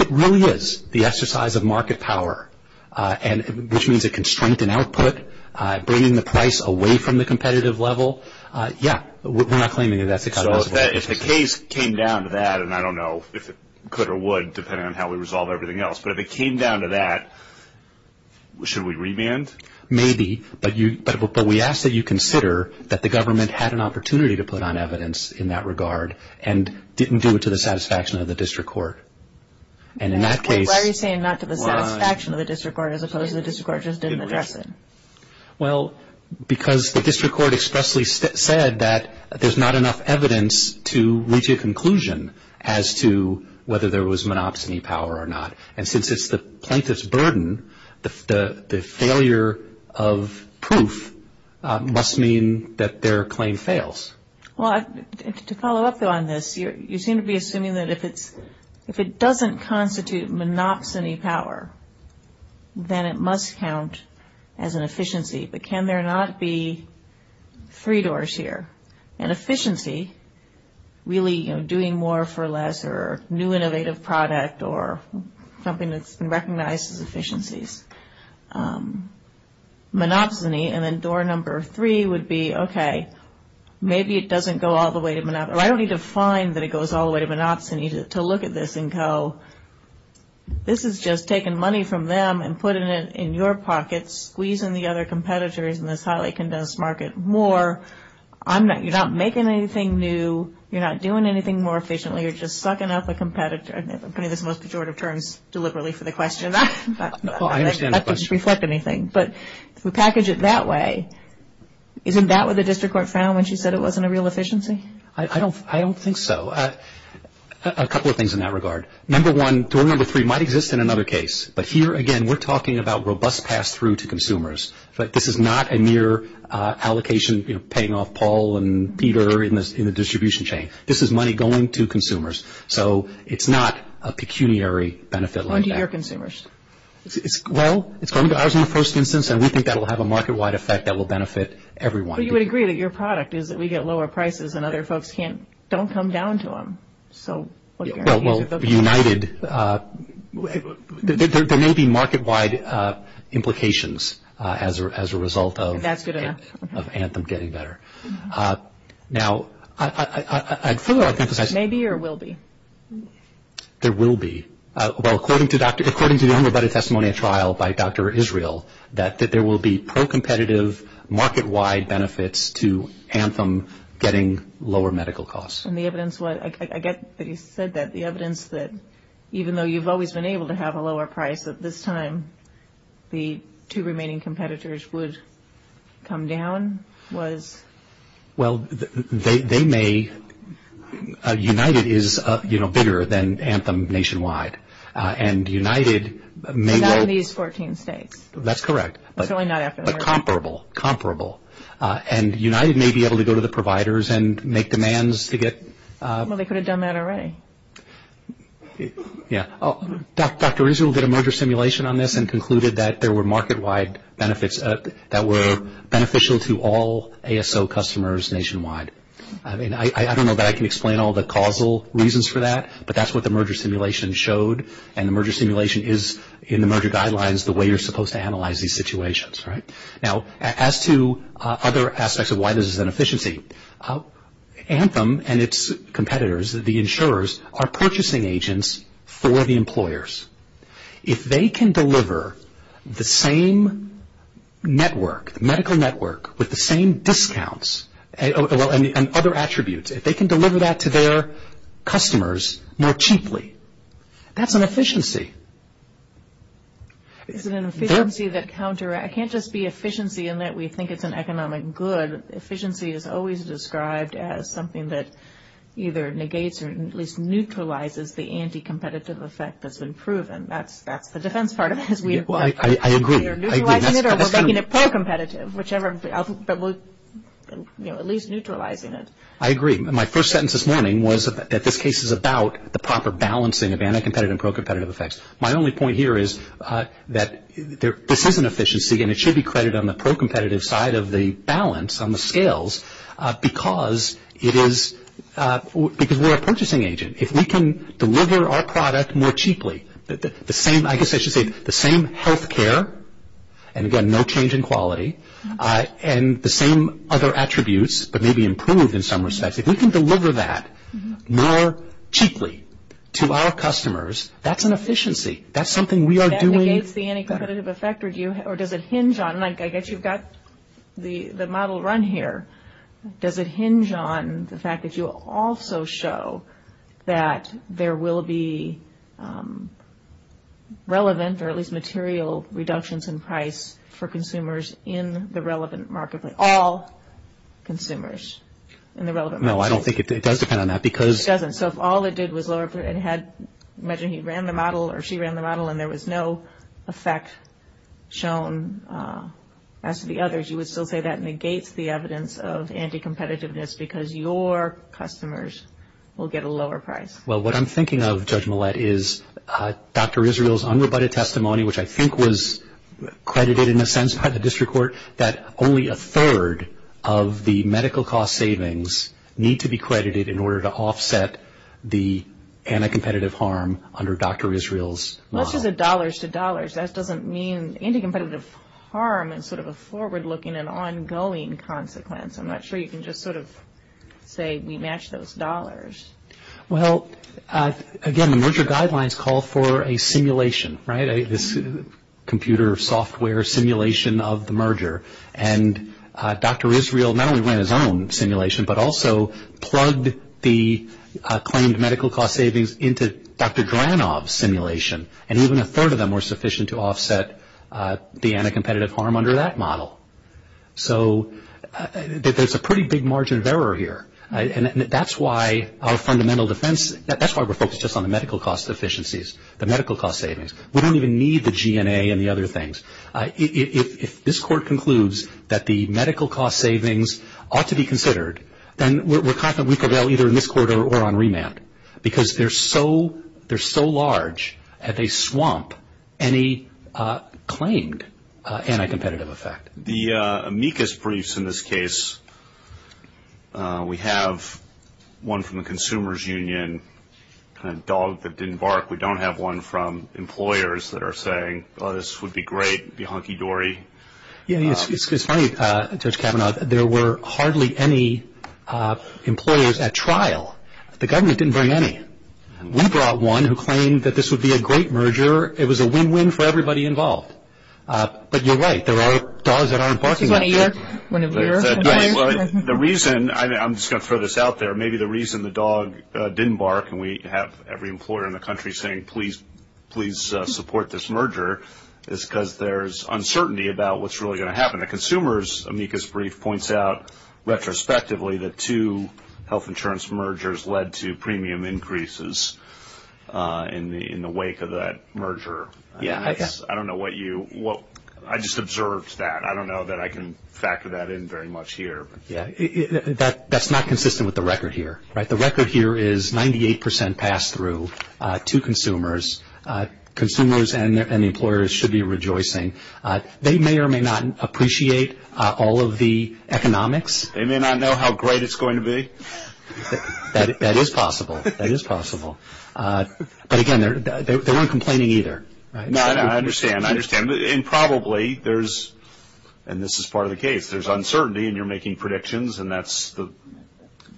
it really is the exercise of market power, which means it can strengthen output, bringing the price away from the competitive level, yeah, we're not claiming that it's a cognizable efficiency. If the case came down to that, and I don't know if it could or would depending on how we resolve everything else, but if it came down to that, should we revamp? Maybe, but we ask that you consider that the government had an opportunity to put on evidence in that regard and didn't do it to the satisfaction of the district court. Why are you saying not to the satisfaction of the district court as opposed to the district court just didn't address it? Well, because the district court expressly said that there's not enough evidence to reach a conclusion as to whether there was monopsony power or not. And since it's the plaintiff's burden, the failure of proof must mean that their claim fails. Well, to follow up on this, you seem to be assuming that if it doesn't constitute monopsony power, then it must count as an efficiency, but can there not be three doors here? An efficiency, really doing more for less or new innovative product or something that's been recognized as efficiencies. Monopsony, and then door number three would be, okay, maybe it doesn't go all the way to monopsony. I don't need to find that it goes all the way to monopsony to look at this and go, this is just taking money from them and putting it in your pocket, squeezing the other competitors in this highly condensed market more. You're not making anything new. You're not doing anything more efficiently. You're just sucking up a competitor. I'm putting this in the most pejorative terms deliberately for the question. That doesn't reflect anything. But if we package it that way, isn't that what the district court found when she said it wasn't a real efficiency? I don't think so. A couple of things in that regard. Number one, door number three might exist in another case, but here, again, we're talking about robust pass-through to consumers, but this is not a mere allocation paying off Paul and Peter in the distribution chain. This is money going to consumers. So it's not a pecuniary benefit like that. Going to your consumers. Well, it's going to ours in the first instance, and we think that will have a market-wide effect that will benefit everyone. But you would agree that your product is that we get lower prices and other folks don't come down to them. Well, united. There may be market-wide implications as a result of Anthem getting better. Now, I'd further like to emphasize. May be or will be? There will be. Well, according to the unrebutted testimony of trial by Dr. Israel, that there will be pro-competitive market-wide benefits to Anthem getting lower medical costs. And the evidence, I get that you said that, the evidence that even though you've always been able to have a lower price at this time, the two remaining competitors would come down was? Well, they may. United is, you know, bigger than Anthem nationwide. And united may well. That's correct. But comparable, comparable. And united may be able to go to the providers and make demands to get. Well, they could have done that already. Yeah. Dr. Israel did a merger simulation on this and concluded that there were market-wide benefits that were beneficial to all ASO customers nationwide. I mean, I don't know that I can explain all the causal reasons for that, but that's what the merger simulation showed, and the merger simulation is in the merger guidelines the way you're supposed to analyze these situations, right? Now, as to other aspects of why this is an efficiency, Anthem and its competitors, the insurers, are purchasing agents for the employers. If they can deliver the same network, medical network, with the same discounts and other attributes, if they can deliver that to their customers more cheaply, that's an efficiency. It's an efficiency that counteracts. It can't just be efficiency in that we think it's an economic good. Efficiency is always described as something that either negates or at least neutralizes the anti-competitive effect that's been proven. That's the defense part of it. I agree. Either neutralizing it or making it more competitive, whichever, but at least neutralizing it. I agree. My only point here is that this is an efficiency, and it should be credited on the pro-competitive side of the balance, on the scales, because we're a purchasing agent. If we can deliver our product more cheaply, I guess I should say the same health care, and again, no change in quality, and the same other attributes, but maybe improved in some respects, if we can deliver that more cheaply to our customers, that's an efficiency. That's something we are doing. Does that negate the anti-competitive effect, or does it hinge on it? I guess you've got the model run here. Does it hinge on the fact that you also show that there will be relevant or at least material reductions in price for consumers in the relevant market, all consumers in the relevant market? No, I don't think it does depend on that, because... It doesn't. So if all it did was lower, imagine he ran the model, or she ran the model, and there was no effect shown as to the others, you would still say that negates the evidence of anti-competitiveness, because your customers will get a lower price. Well, what I'm thinking of, Judge Millett, is Dr. Israel's unrebutted testimony, which I think was credited in a sense by the district court, that only a third of the medical cost savings need to be credited in order to offset the anti-competitive harm under Dr. Israel's model. Most of the dollars to dollars, that doesn't mean anti-competitive harm is sort of a forward-looking and ongoing consequence. I'm not sure you can just sort of say we match those dollars. Well, again, the merger guidelines call for a simulation, right? This computer software simulation of the merger, and Dr. Israel not only ran his own simulation, but also plugged the claimed medical cost savings into Dr. Dranov's simulation, and even a third of them were sufficient to offset the anti-competitive harm under that model. So there's a pretty big margin of error here, and that's why our fundamental defense, that's why we're focused just on the medical cost efficiencies, the medical cost savings. We don't even need the GNA and the other things. If this court concludes that the medical cost savings ought to be considered, then we're confident we could bail either in this court or on remand, because they're so large that they swamp any claimed anti-competitive effect. The amicus briefs in this case, we have one from the consumer's union, a dog that didn't bark. We don't have one from employers that are saying, oh, this would be great, it would be hunky-dory. It's funny, Judge Kavanaugh, there were hardly any employers at trial. The government didn't bring any. We brought one who claimed that this would be a great merger. It was a win-win for everybody involved. But you're right, there are dogs that aren't barking. Do you want to hear? The reason, I'm just going to throw this out there, maybe the reason the dog didn't bark, and we have every employer in the country saying, please support this merger, is because there's uncertainty about what's really going to happen. The consumer's amicus brief points out, retrospectively, that two health insurance mergers led to premium increases in the wake of that merger. I just observed that. I don't know that I can factor that in very much here. That's not consistent with the record here. The record here is 98% pass-through to consumers. Consumers and employers should be rejoicing. They may or may not appreciate all of the economics. They may not know how great it's going to be. That is possible. That is possible. But, again, they weren't complaining either. I understand. I understand. And probably there's, and this is part of the case, there's uncertainty and you're making predictions, and that's the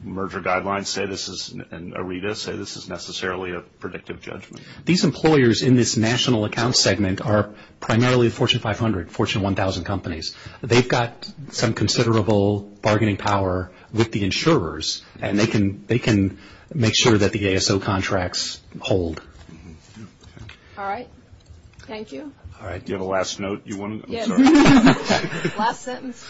merger guidelines say this is, and ARETA say this is necessarily a predictive judgment. These employers in this national account segment are primarily the Fortune 500, Fortune 1000 companies. They've got some considerable bargaining power with the insurers, and they can make sure that the ASO contracts hold. All right. Thank you. All right. Do you have a last note you wanted? Yes. Last sentence.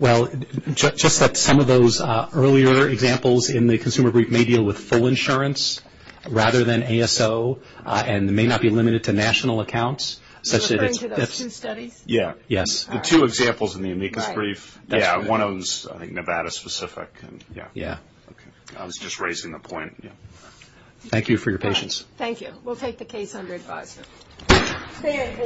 Well, just like some of those earlier examples in the consumer brief may deal with full insurance rather than ASO and may not be limited to national accounts. You're referring to those two studies? Yeah. Yes. The two examples in the amicus brief. Yeah, one of those, I think, Nevada specific. Yeah. Yeah. Okay. I was just raising the point. Thank you for your patience. Thank you. We'll take the case under advisory. Thank you.